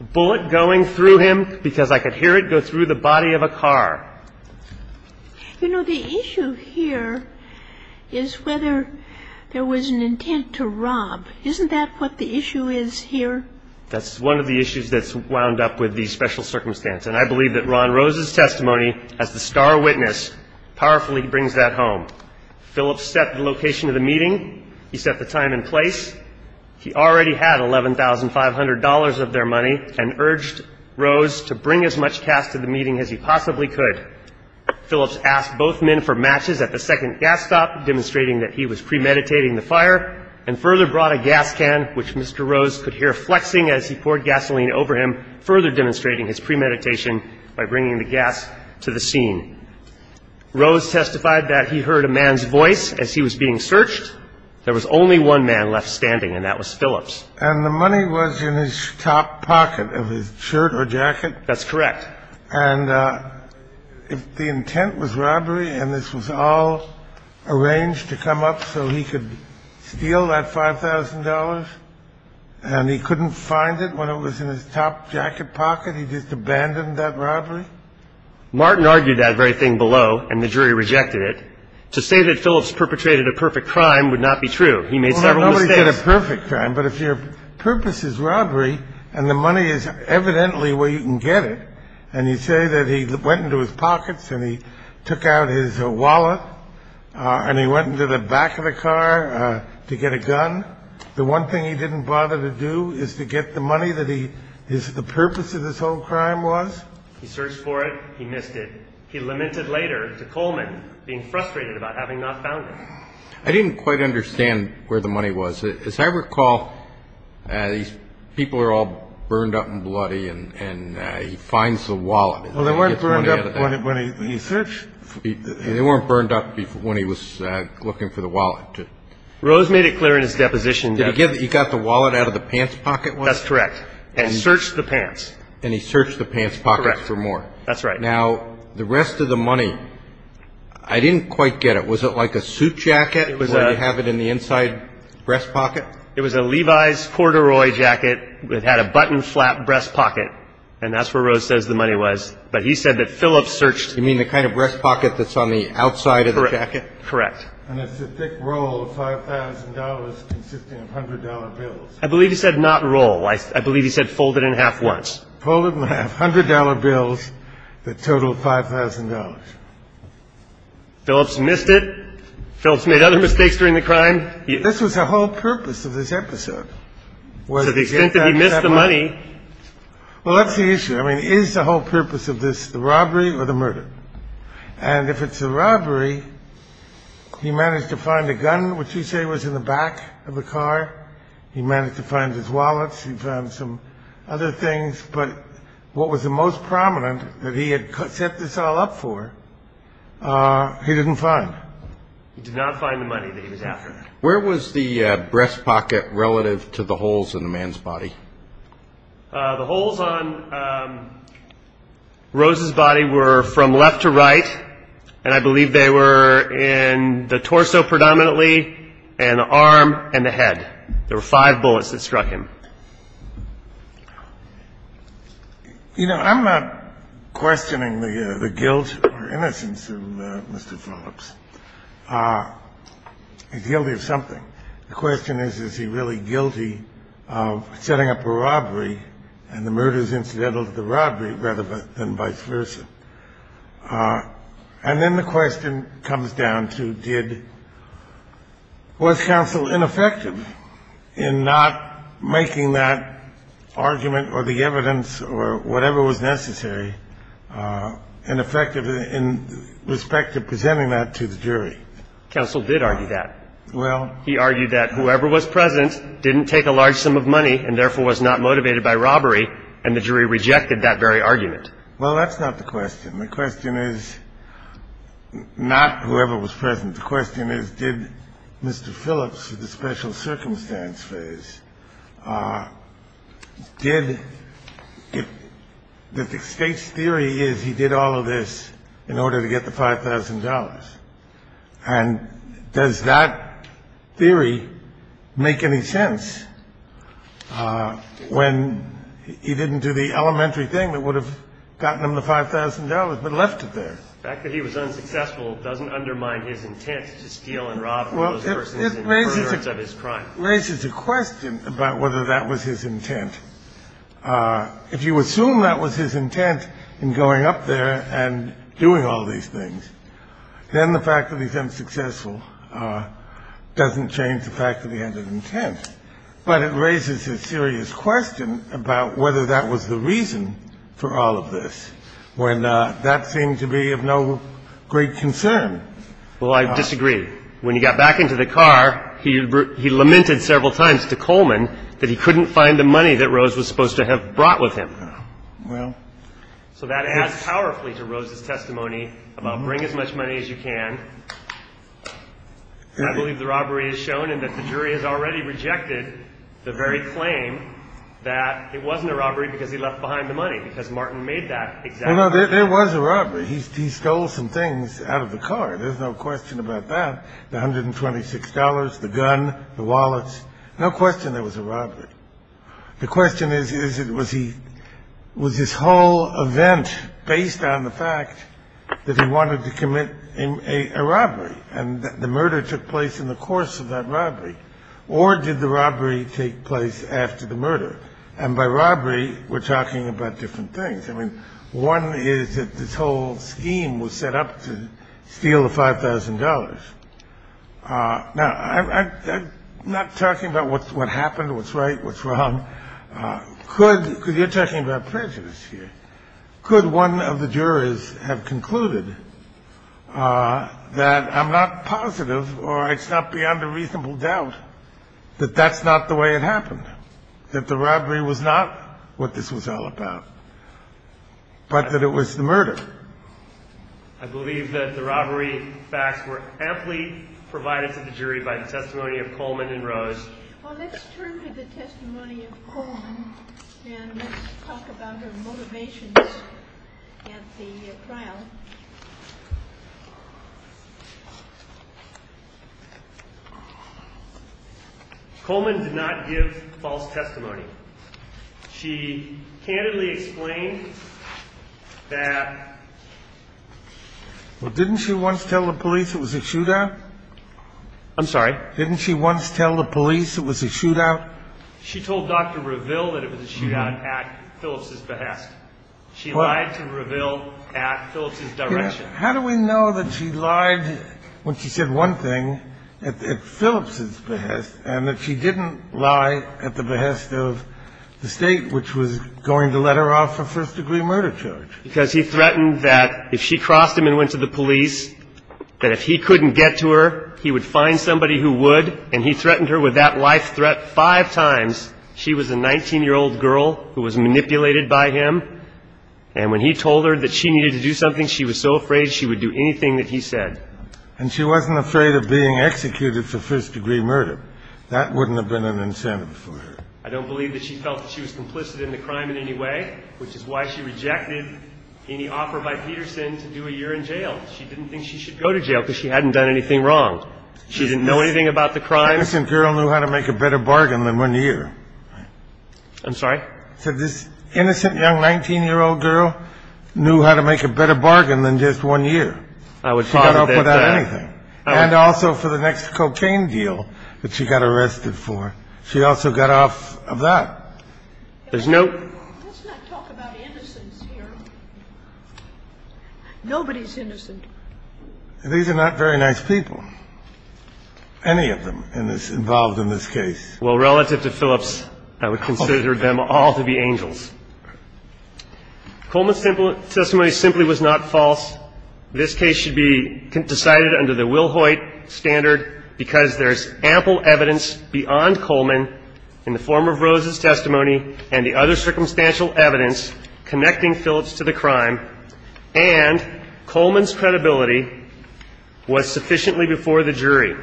a bullet going through him because I could hear it go through the body of a car. You know, the issue here is whether there was an intent to rob. Isn't that what the issue is here? That's one of the issues that's wound up with these special circumstances, and I believe that Ron Rose's testimony as the star witness powerfully brings that home. Phillips set the location of the meeting. He set the time and place. He already had $11,500 of their money and urged Rose to bring as much cash to the meeting as he possibly could. Phillips asked both men for matches at the second gas stop, demonstrating that he was gasoline over him, further demonstrating his premeditation by bringing the gas to the scene. Rose testified that he heard a man's voice as he was being searched. There was only one man left standing, and that was Phillips. And the money was in his top pocket of his shirt or jacket. That's correct. And if the intent was robbery and this was all arranged to come up so he could steal that $5,000 and he couldn't find it when it was in his top jacket pocket, he just abandoned that robbery? Martin argued that very thing below, and the jury rejected it. To say that Phillips perpetrated a perfect crime would not be true. He made several mistakes. Well, nobody did a perfect crime, but if your purpose is robbery and the money is evidently where you can get it, and you say that he went into his pockets and he took out his wallet and he went into the back of the car to get a gun, the one thing he didn't bother to do is to get the money that the purpose of this whole crime was? He searched for it. He missed it. He lamented later to Coleman, being frustrated about having not found it. I didn't quite understand where the money was. As I recall, these people are all burned up and bloody, and he finds the wallet. Well, they weren't burned up when he searched. They weren't burned up when he was looking for the wallet. Rose made it clear in his deposition that he got the wallet out of the pants pocket. That's correct. And searched the pants. And he searched the pants pocket for more. That's right. Now, the rest of the money, I didn't quite get it. Was it like a suit jacket where you have it in the inside breast pocket? It was a Levi's corduroy jacket. It had a button flap breast pocket, and that's where Rose says the money was. But he said that Phillips searched. You mean the kind of breast pocket that's on the outside of the jacket? Correct. And it's a thick roll of $5,000 consisting of $100 bills. I believe he said not roll. I believe he said folded in half once. Folded in half, $100 bills that totaled $5,000. Phillips missed it. Phillips made other mistakes during the crime. This was the whole purpose of this episode. To the extent that he missed the money. Well, that's the issue. I mean, is the whole purpose of this the robbery or the murder? And if it's a robbery, he managed to find a gun, which he said was in the back of the car. He managed to find his wallet. He found some other things. But what was the most prominent that he had set this all up for, he didn't find. He did not find the money that he was after. Where was the breast pocket relative to the holes in the man's body? The holes on Rose's body were from left to right. And I believe they were in the torso predominantly and the arm and the head. There were five bullets that struck him. You know, I'm not questioning the guilt or innocence of Mr. Phillips. He's guilty of something. The question is, is he really guilty of setting up a robbery and the murders incidental to the robbery rather than vice versa? And then the question comes down to did – was counsel ineffective in not making that argument or the evidence or whatever was necessary ineffective in respect to presenting that to the jury? Counsel did argue that. He argued that whoever was present didn't take a large sum of money and therefore was not motivated by robbery, and the jury rejected that very argument. Well, that's not the question. The question is not whoever was present. The question is did Mr. Phillips, the special circumstance phase, did – the State's theory is he did all of this in order to get the $5,000. And does that theory make any sense when he didn't do the elementary thing that would have gotten him the $5,000 but left it there? The fact that he was unsuccessful doesn't undermine his intent to steal and rob those persons in the occurrence of his crime. Well, it raises a question about whether that was his intent. If you assume that was his intent in going up there and doing all these things, then the fact that he's unsuccessful doesn't change the fact that he had an intent. But it raises a serious question about whether that was the reason for all of this when that seemed to be of no great concern. Well, I disagree. When he got back into the car, he lamented several times to Coleman that he couldn't find the money that Rose was supposed to have brought with him. So that adds powerfully to Rose's testimony about bring as much money as you can. I believe the robbery is shown and that the jury has already rejected the very claim that it wasn't a robbery because he left behind the money, because Martin made that exact claim. There was a robbery. He stole some things out of the car. There's no question about that, the $126, the gun, the wallets. No question there was a robbery. The question is, was his whole event based on the fact that he wanted to commit a robbery and the murder took place in the course of that robbery? Or did the robbery take place after the murder? And by robbery, we're talking about different things. I mean, one is that this whole scheme was set up to steal the $5,000. Now, I'm not talking about what happened, what's right, what's wrong. You're talking about prejudice here. Could one of the jurors have concluded that I'm not positive or it's not beyond a reasonable doubt that that's not the way it happened, that the robbery was not what this was all about? But that it was the murder. I believe that the robbery facts were amply provided to the jury by the testimony of Coleman and Rose. Well, let's turn to the testimony of Coleman and talk about her motivations at the trial. Coleman did not give false testimony. She candidly explained that. Well, didn't she once tell the police it was a shootout? I'm sorry. Didn't she once tell the police it was a shootout? She told Dr. Reville that it was a shootout at Phillips's behest. She lied to Reville at Phillips's direction. How do we know that she lied when she said one thing at Phillips's behest and that she didn't lie at the behest of the state, which was going to let her off a first-degree murder charge? Because he threatened that if she crossed him and went to the police, that if he couldn't get to her, he would find somebody who would. And he threatened her with that life threat five times. She was a 19-year-old girl who was manipulated by him. And when he told her that she needed to do something, she was so afraid she would do anything that he said. And she wasn't afraid of being executed for first-degree murder. That wouldn't have been an incentive for her. I don't believe that she felt that she was complicit in the crime in any way, which is why she rejected any offer by Peterson to do a year in jail. She didn't think she should go to jail because she hadn't done anything wrong. She didn't know anything about the crime. This girl knew how to make a better bargain than one year. I'm sorry? This innocent young 19-year-old girl knew how to make a better bargain than just one year. She got off without anything. And also for the next cocaine deal that she got arrested for, she also got off of that. There's no ---- Let's not talk about innocents here. Nobody's innocent. These are not very nice people, any of them involved in this case. Well, relative to Phillips, I would consider them all to be angels. Coleman's testimony simply was not false. This case should be decided under the Will Hoyt standard because there's ample evidence beyond Coleman in the form of Rose's testimony and the other circumstantial evidence connecting Phillips to the crime, and Coleman's credibility was sufficiently before the jury.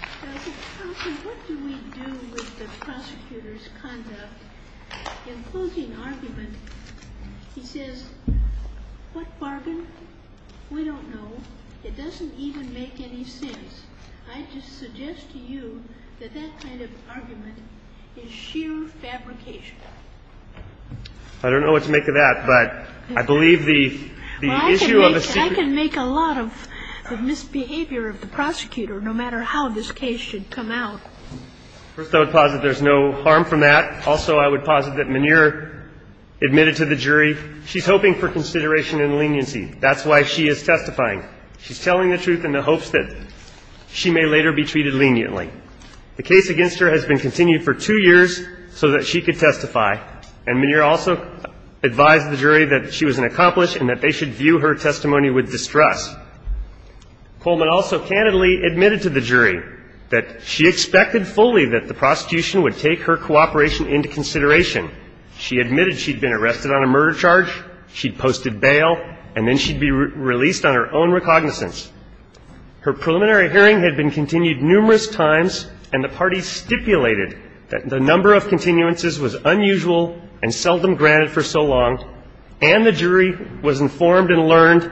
Counsel, what do we do with the prosecutor's conduct? In closing argument, he says, what bargain? We don't know. It doesn't even make any sense. I just suggest to you that that kind of argument is sheer fabrication. I don't know what to make of that, but I believe the issue of a secret ---- I believe that the objective of the case is to ensure that the prosecutor is a good lawyer and a good prosecutor no matter how this case should come out. First, I would posit there's no harm from that. Also, I would posit that Minear admitted to the jury she's hoping for consideration and leniency. That's why she is testifying. She's telling the truth in the hopes that she may later be treated leniently. The case against her has been continued for two years so that she could testify, and Minear also advised the jury that she was an accomplished and that they should view her testimony with distrust. Coleman also candidly admitted to the jury that she expected fully that the prosecution would take her cooperation into consideration. She admitted she'd been arrested on a murder charge, she'd posted bail, and then she'd be released on her own recognizance. Her preliminary hearing had been continued numerous times, and the parties stipulated that the number of continuances was unusual and seldom granted for so long, and the jury was informed and learned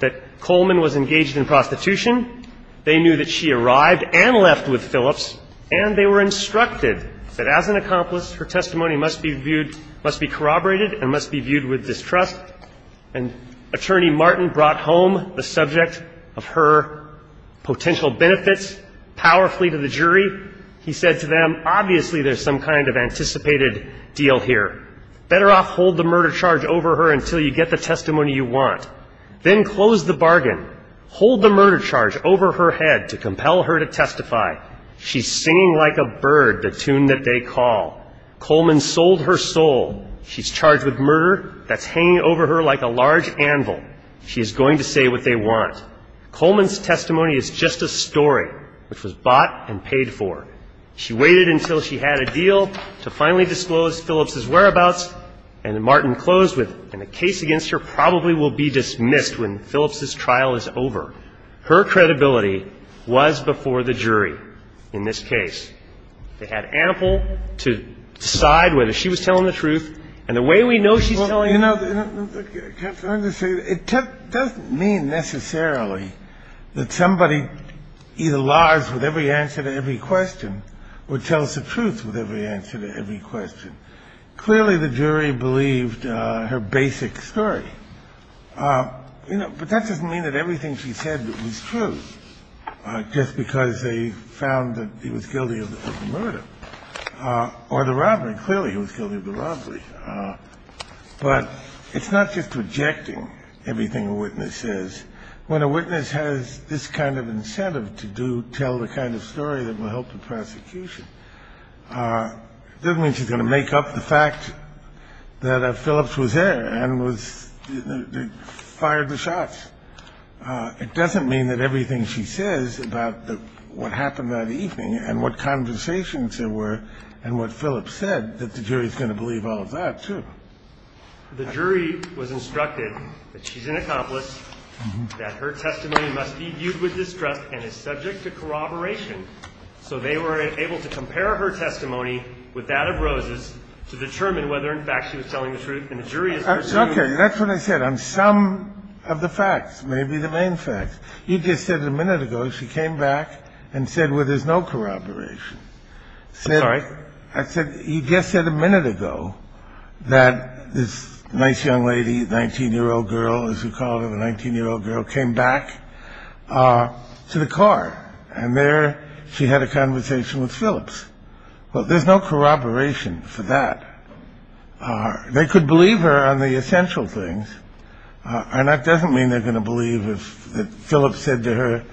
that Coleman was engaged in prostitution. They knew that she arrived and left with Phillips, and they were instructed that as an accomplice, her testimony must be viewed ---- must be corroborated and must be viewed with distrust. And Attorney Martin brought home the subject of her potential benefits powerfully to the jury. He said to them, obviously there's some kind of anticipated deal here. Better off hold the murder charge over her until you get the testimony you want. Then close the bargain. Hold the murder charge over her head to compel her to testify. She's singing like a bird, the tune that they call. Coleman sold her soul. She's charged with murder that's hanging over her like a large anvil. She is going to say what they want. Coleman's testimony is just a story which was bought and paid for. She waited until she had a deal to finally disclose Phillips' whereabouts, and then Martin closed with, and the case against her probably will be dismissed when Phillips' trial is over. Her credibility was before the jury in this case. They had ample to decide whether she was telling the truth. And the way we know she's telling the truth ---- Kennedy, it doesn't mean necessarily that somebody either lies with every answer to every question or tells the truth with every answer to every question. Clearly, the jury believed her basic story. You know, but that doesn't mean that everything she said was true just because they found that he was guilty of the murder or the robbery. Clearly, he was guilty of the robbery. But it's not just rejecting everything a witness says. When a witness has this kind of incentive to tell the kind of story that will help the prosecution, it doesn't mean she's going to make up the fact that Phillips was there and fired the shots. It doesn't mean that everything she says about what happened that evening and what conversations there were and what Phillips said, that the jury is going to believe all of that, too. The jury was instructed that she's an accomplice, that her testimony must be viewed with distrust and is subject to corroboration. So they were able to compare her testimony with that of Rose's to determine whether, in fact, she was telling the truth. And the jury is ---- That's what I said on some of the facts, maybe the main facts. You just said a minute ago she came back and said, well, there's no corroboration. Sorry? I said, you just said a minute ago that this nice young lady, 19-year-old girl, as we call her, the 19-year-old girl, came back to the car. And there she had a conversation with Phillips. Well, there's no corroboration for that. They could believe her on the essential things. And that doesn't mean they're going to believe that Phillips said to her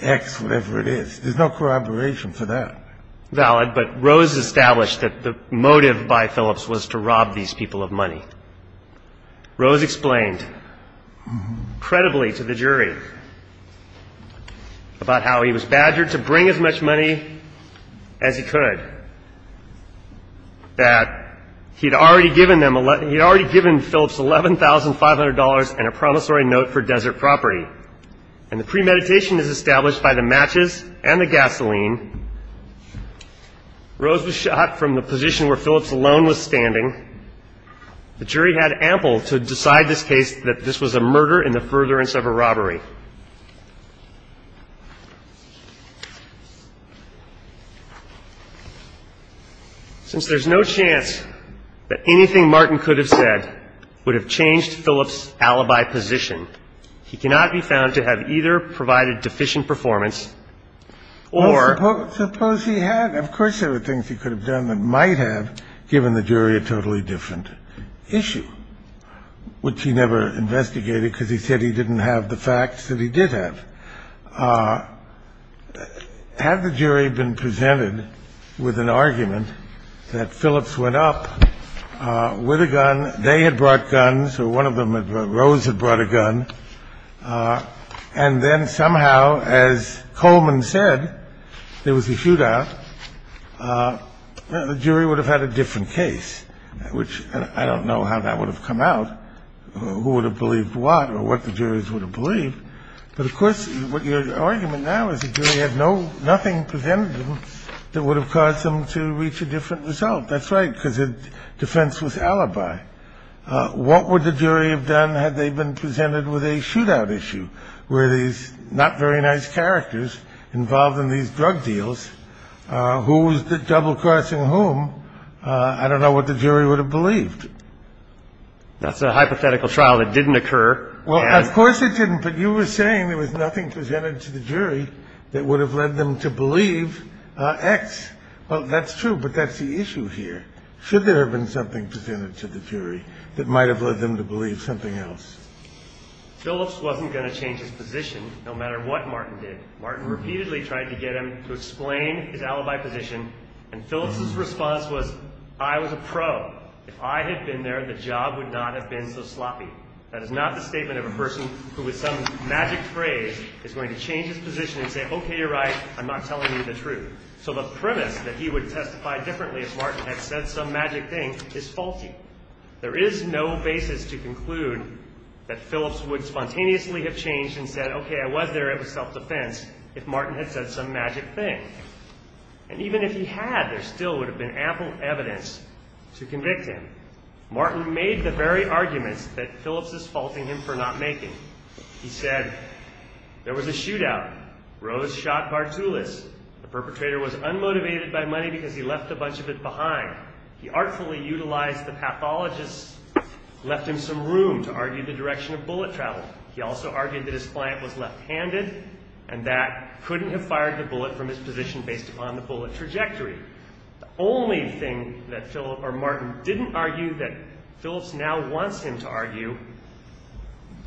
X, whatever it is. There's no corroboration for that. Valid, but Rose established that the motive by Phillips was to rob these people of money. Rose explained credibly to the jury about how he was badgered to bring as much money as he could, that he had already given Phillips $11,500 and a promissory note for desert property. And the premeditation is established by the matches and the gasoline. Rose was shot from the position where Phillips alone was standing. The jury had ample to decide this case that this was a murder in the furtherance of a robbery. Since there's no chance that anything Martin could have said would have changed Phillips' alibi position, he cannot be found to have either provided deficient performance or ---- Suppose he had. Of course there were things he could have done that might have given the jury a totally different issue, which he never investigated because he said he didn't have the facts. The facts that he did have. Had the jury been presented with an argument that Phillips went up with a gun, they had brought guns or one of them, Rose, had brought a gun. And then somehow, as Coleman said, there was a shootout. The jury would have had a different case, which I don't know how that would have come out, who would have believed what or what the jurors would have believed. But, of course, your argument now is the jury had nothing presented to them that would have caused them to reach a different result. That's right, because defense was alibi. What would the jury have done had they been presented with a shootout issue? Were these not very nice characters involved in these drug deals? Who was the double crossing whom? I don't know what the jury would have believed. That's a hypothetical trial that didn't occur. Well, of course it didn't. But you were saying there was nothing presented to the jury that would have led them to believe X. Well, that's true. But that's the issue here. Should there have been something presented to the jury that might have led them to believe something else? Phillips wasn't going to change his position no matter what Martin did. Martin repeatedly tried to get him to explain his alibi position. And Phillips's response was I was a pro. If I had been there, the job would not have been so sloppy. That is not the statement of a person who with some magic phrase is going to change his position and say, okay, you're right, I'm not telling you the truth. So the premise that he would testify differently if Martin had said some magic thing is faulty. There is no basis to conclude that Phillips would spontaneously have changed and said, okay, I was there, it was self-defense, if Martin had said some magic thing. And even if he had, there still would have been ample evidence to convict him. Martin made the very arguments that Phillips is faulting him for not making. He said there was a shootout. Rose shot Bartulis. The perpetrator was unmotivated by money because he left a bunch of it behind. He artfully utilized the pathologist, left him some room to argue the direction of bullet travel. He also argued that his client was left-handed and that couldn't have fired the bullet from his position based upon the bullet trajectory. The only thing that Martin didn't argue that Phillips now wants him to argue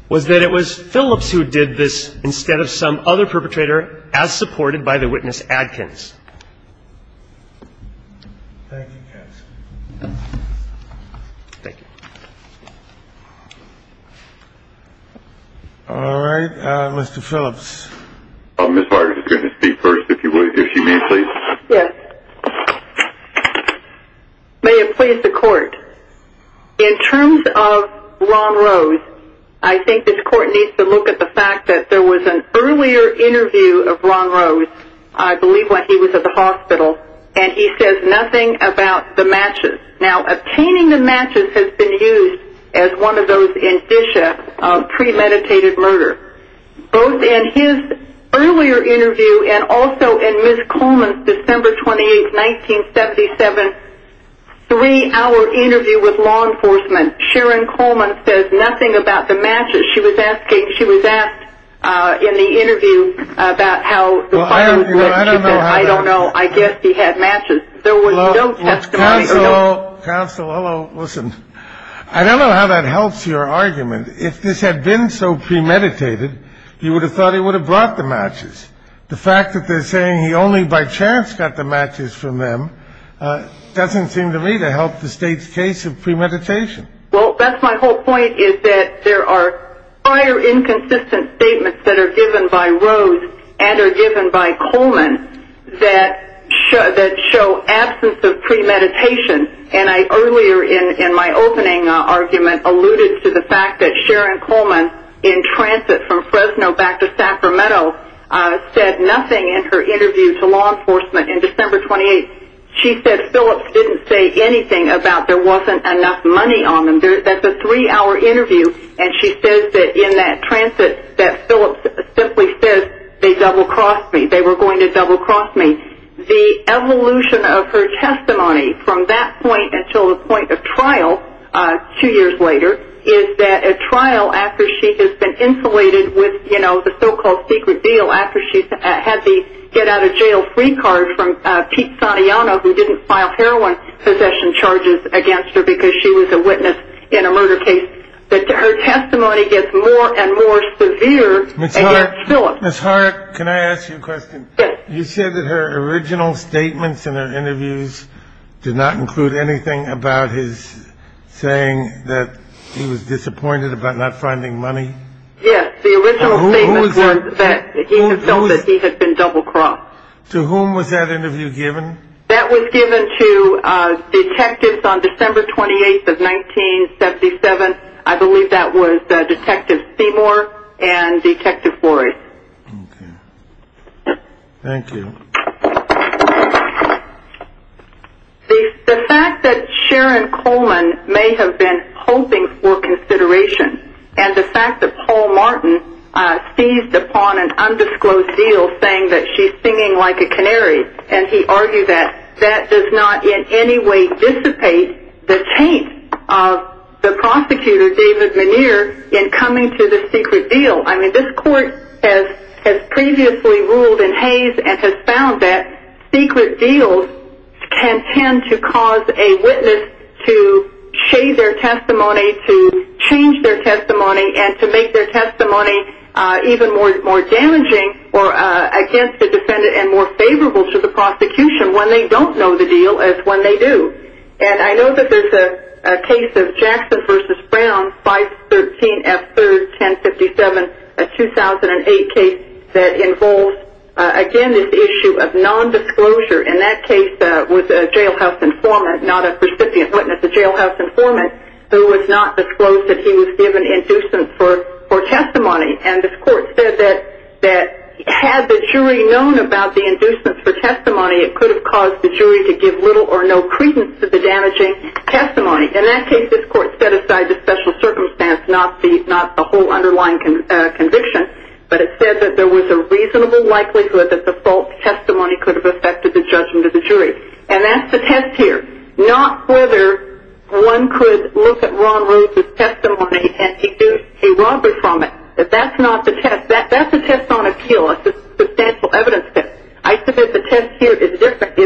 was that it was Phillips who did this instead of some other perpetrator, as supported by the witness Adkins. All right. Mr. Phillips. I'm going to speak first, if you would, if you may, please. Yes. May it please the court. In terms of Ron Rose, I think this court needs to look at the fact that there was an earlier interview of Ron Rose. I believe when he was at the hospital, and he says nothing about the matches. Now, obtaining the matches has been used as one of those indicia of premeditated murder. Both in his earlier interview and also in Ms. Coleman's December 28, 1977, three-hour interview with law enforcement, Sharon Coleman says nothing about the matches. She was asked in the interview about how I don't know. I don't know. I guess he had matches. There was no testimony. Counsel, listen, I don't know how that helps your argument. If this had been so premeditated, you would have thought he would have brought the matches. The fact that they're saying he only by chance got the matches from them doesn't seem to me to help the state's case of premeditation. Well, that's my whole point is that there are prior inconsistent statements that are given by Rose and are given by Coleman that show absence of premeditation. And I earlier in my opening argument alluded to the fact that Sharon Coleman, in transit from Fresno back to Sacramento, said nothing in her interview to law enforcement in December 28. She said Phillips didn't say anything about there wasn't enough money on them. That's a three-hour interview, and she says that in that transit that Phillips simply says they double-crossed me. They were going to double-cross me. The evolution of her testimony from that point until the point of trial two years later is that a trial after she has been insulated with, you know, the so-called secret deal after she had the get-out-of-jail-free card from Pete Santayana, who didn't file heroin possession charges against her because she was a witness in a murder case, that her testimony gets more and more severe against Phillips. Ms. Hart, can I ask you a question? Yes. You said that her original statements in her interviews did not include anything about his saying that he was disappointed about not finding money? Yes. The original statement was that he had felt that he had been double-crossed. To whom was that interview given? That was given to detectives on December 28th of 1977. I believe that was Detective Seymour and Detective Flores. Okay. Thank you. The fact that Sharon Coleman may have been hoping for consideration and the fact that Paul Martin seized upon an undisclosed deal saying that she's singing like a canary and he argued that that does not in any way dissipate the taint of the prosecutor, David Menier, in coming to the secret deal. I mean, this court has previously ruled in haze and has found that secret deals can tend to cause a witness to shade their testimony, to change their testimony, and to make their testimony even more damaging or against the defendant and more favorable to the prosecution when they don't know the deal as when they do. And I know that there's a case of Jackson v. Brown, 513F3-1057, a 2008 case that involves, again, this issue of nondisclosure. And that case was a jailhouse informant, not a recipient witness, a jailhouse informant, who was not disclosed that he was given indocence for testimony. And this court said that had the jury known about the indocence for testimony, it could have caused the jury to give little or no credence to the damaging testimony. In that case, this court set aside the special circumstance, not the whole underlying conviction, but it said that there was a reasonable likelihood that the false testimony could have affected the judgment of the jury. And that's the test here, not whether one could look at Ron Rhodes' testimony and induce a robbery from it. That's not the test. That's a test on appeal, a substantial evidence test. I submit the test here is different.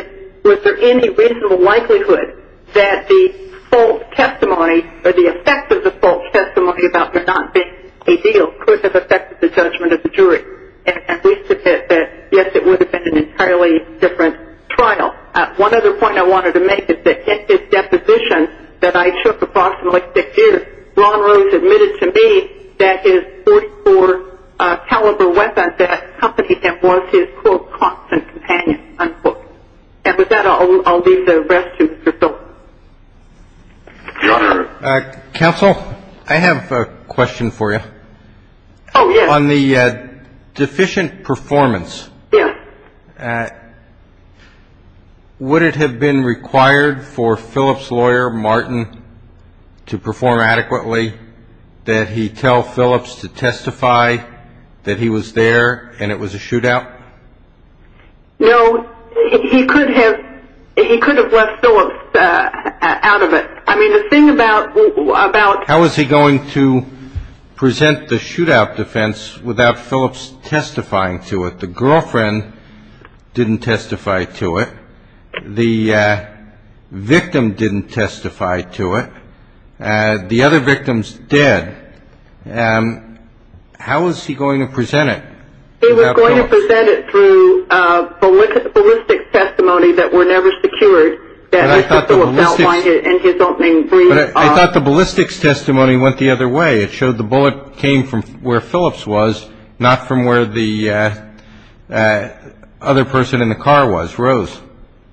Was there any reasonable likelihood that the false testimony or the effect of the false testimony about there not being a deal could have affected the judgment of the jury? And we submit that, yes, it would have been an entirely different trial. One other point I wanted to make is that in his deposition that I took approximately six years, Ron Rhodes admitted to me that his .44-caliber weapon that accompanied him was his, quote, constant companion, unquote. And with that, I'll leave the rest to Mr. Thorpe. Counsel, I have a question for you. Oh, yes. On the deficient performance. Yes. Would it have been required for Phillips' lawyer, Martin, to perform adequately, that he tell Phillips to testify that he was there and it was a shootout? No. He could have left Phillips out of it. I mean, the thing about ---- How was he going to present the shootout defense without Phillips testifying to it? The girlfriend didn't testify to it. The victim didn't testify to it. The other victims did. How was he going to present it without Phillips? They were going to present it through ballistics testimony that were never secured. That Mr. Thorpe outlined it in his opening brief. But I thought the ballistics testimony went the other way. It showed the bullet came from where Phillips was, not from where the other person in the car was. Rose?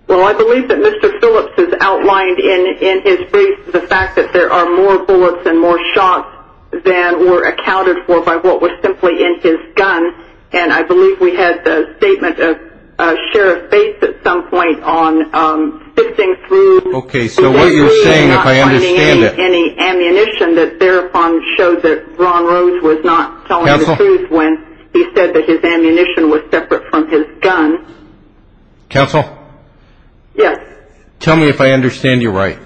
Well, I believe that Mr. Phillips has outlined in his brief the fact that there are more bullets and more shots than were accounted for by what was simply in his gun. And I believe we had the statement of Sheriff Bates at some point on sifting through. Okay. So what you're saying, if I understand it. Any ammunition that thereupon showed that Ron Rose was not telling the truth when he said that his ammunition was separate from his gun. Counsel? Yes. Tell me if I understand you right.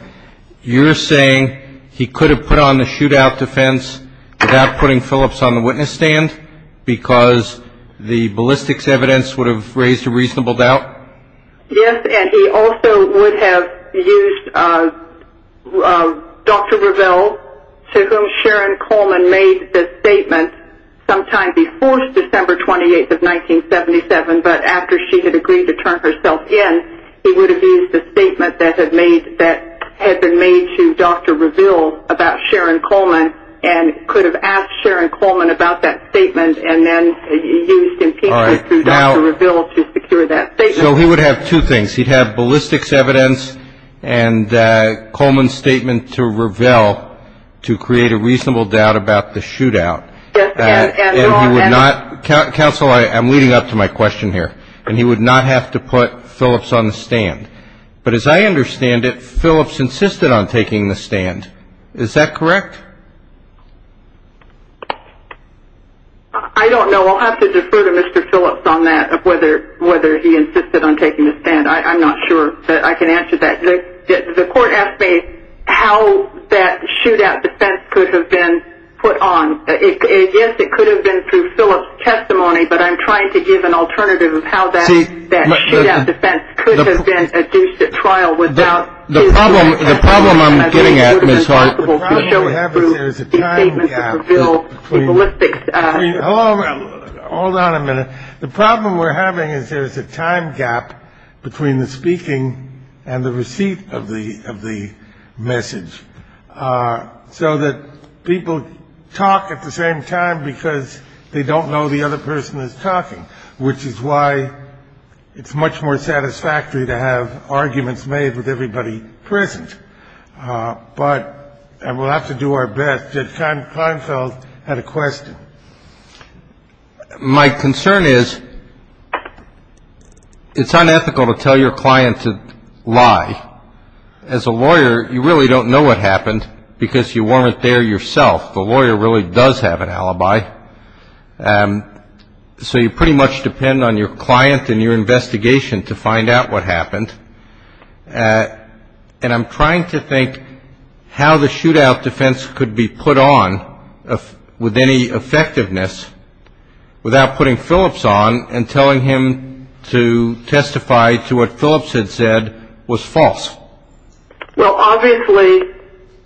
You're saying he could have put on the shootout defense without putting Phillips on the witness stand because the ballistics evidence would have raised a reasonable doubt? Yes. And he also would have used Dr. Revelle, to whom Sharon Coleman made the statement sometime before December 28th of 1977. But after she had agreed to turn herself in, he would have used the statement that had been made to Dr. Revelle about Sharon Coleman and then used impeachment through Dr. Revelle to secure that statement. So he would have two things. He'd have ballistics evidence and Coleman's statement to Revelle to create a reasonable doubt about the shootout. Yes. And he would not. Counsel, I'm leading up to my question here. And he would not have to put Phillips on the stand. But as I understand it, Phillips insisted on taking the stand. Is that correct? I don't know. I'll have to defer to Mr. Phillips on that, whether he insisted on taking the stand. I'm not sure that I can answer that. The court asked me how that shootout defense could have been put on. Yes, it could have been through Phillips' testimony, but I'm trying to give an alternative of how that shootout defense could have been adduced at trial without his consent. The problem I'm getting at, Ms. Hart, the problem we're having is there's a time gap. Hold on a minute. The problem we're having is there's a time gap between the speaking and the receipt of the message, so that people talk at the same time because they don't know the other person is talking, which is why it's much more satisfactory to have arguments made with everybody present. But we'll have to do our best. Did Klinefeld have a question? My concern is it's unethical to tell your client to lie. As a lawyer, you really don't know what happened because you weren't there yourself. The lawyer really does have an alibi. So you pretty much depend on your client and your investigation to find out what happened. And I'm trying to think how the shootout defense could be put on with any effectiveness without putting Phillips on and telling him to testify to what Phillips had said was false. Well, obviously,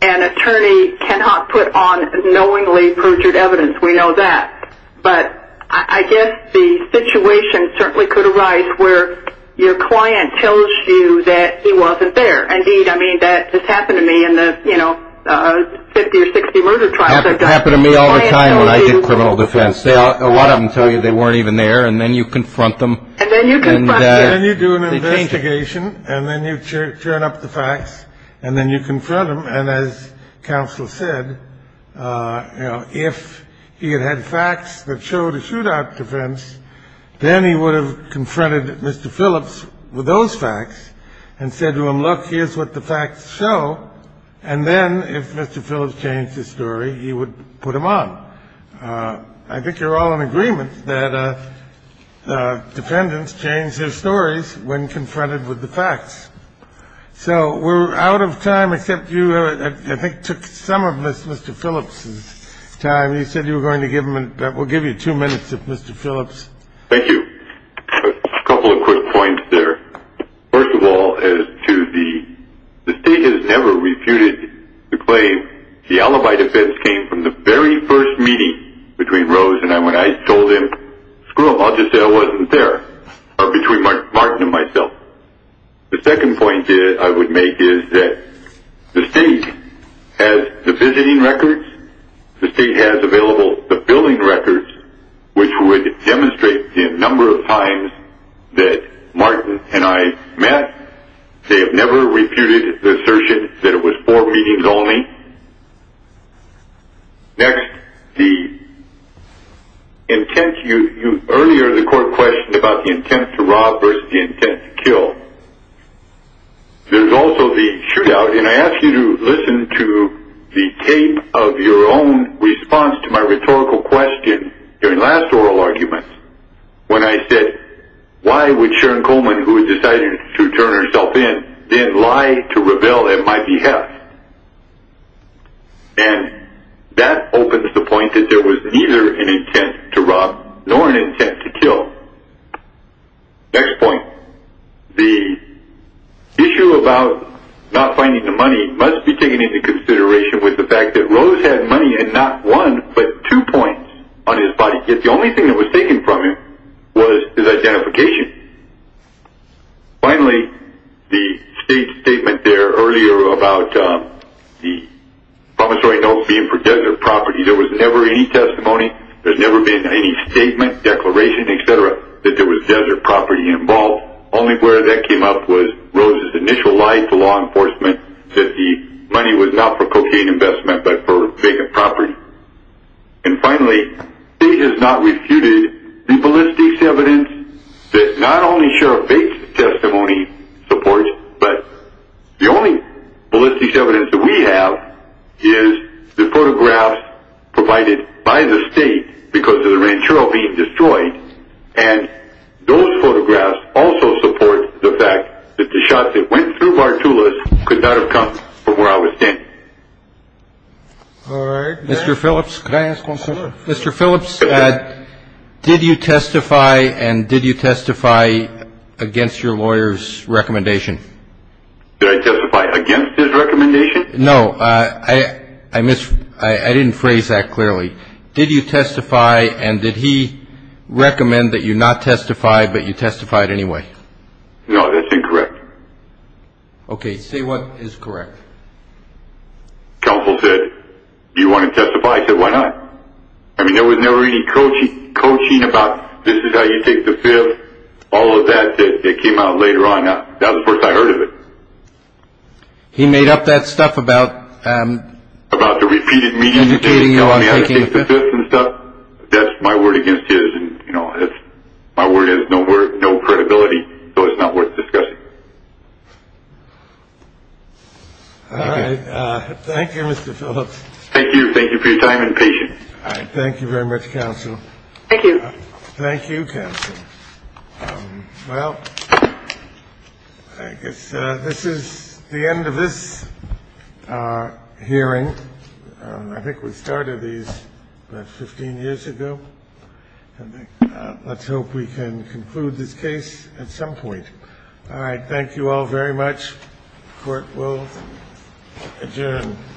an attorney cannot put on knowingly perjured evidence. We know that. But I guess the situation certainly could arise where your client tells you that he wasn't there. Indeed, I mean, that just happened to me in the 50 or 60 murder trial. It happened to me all the time when I did criminal defense. A lot of them tell you they weren't even there, and then you confront them. And then you confront them. And then you turn up the facts and then you confront them. And as counsel said, if he had had facts that showed a shootout defense, then he would have confronted Mr. Phillips with those facts and said to him, look, here's what the facts show. And then if Mr. Phillips changed his story, he would put him on. I think you're all in agreement that defendants change their stories when confronted with the facts. So we're out of time, except you, I think, took some of Mr. Phillips' time. You said you were going to give him and we'll give you two minutes if Mr. Phillips. Thank you. A couple of quick points there. First of all, as to the state has never refuted the claim, the alibi defense came from the very first meeting between Rose and I when I told him, screw him, I'll just say I wasn't there, or between Martin and myself. The second point I would make is that the state has the visiting records. The state has available the billing records, which would demonstrate the number of times that Martin and I met. They have never refuted the assertion that it was four meetings only. Next, the intent, earlier the court questioned about the intent to rob versus the intent to kill. There's also the shootout, and I ask you to listen to the tape of your own response to my rhetorical question during last oral argument when I said, why would Sharon Coleman, who had decided to turn herself in, then lie to rebel at my behalf? And that opens the point that there was neither an intent to rob nor an intent to kill. Next point, the issue about not finding the money must be taken into consideration with the fact that Rose had money and not one but two points on his body, yet the only thing that was taken from him was his identification. Finally, the state's statement there earlier about the promissory note being for desert property, there was never any testimony, there's never been any statement, declaration, et cetera, that there was desert property involved. Only where that came up was Rose's initial lie to law enforcement that the money was not for cocaine investment but for vacant property. And finally, the state has not refuted the ballistics evidence that not only Sheriff Bates' testimony supports, but the only ballistics evidence that we have is the photographs provided by the state because of the ranchero being destroyed, and those photographs also support the fact that the shots that went through Bartulas could not have come from where I was standing. All right. Mr. Phillips? Mr. Phillips, did you testify and did you testify against your lawyer's recommendation? Did I testify against his recommendation? No. I didn't phrase that clearly. Did you testify and did he recommend that you not testify but you testified anyway? No, that's incorrect. Okay, say what is correct. Counsel said, do you want to testify? I said, why not? I mean, there was never any coaching about this is how you take the fifth, all of that that came out later on. That was the first I heard of it. He made up that stuff about educating you on taking the fifth? That's my word against his, and my word has no credibility, so it's not worth discussing. All right. Thank you, Mr. Phillips. Thank you. Thank you for your time and patience. All right. Thank you very much, counsel. Thank you. Thank you, counsel. Well, I guess this is the end of this hearing. I think we started these about 15 years ago. Let's hope we can conclude this case at some point. All right. Thank you all very much. Court will adjourn.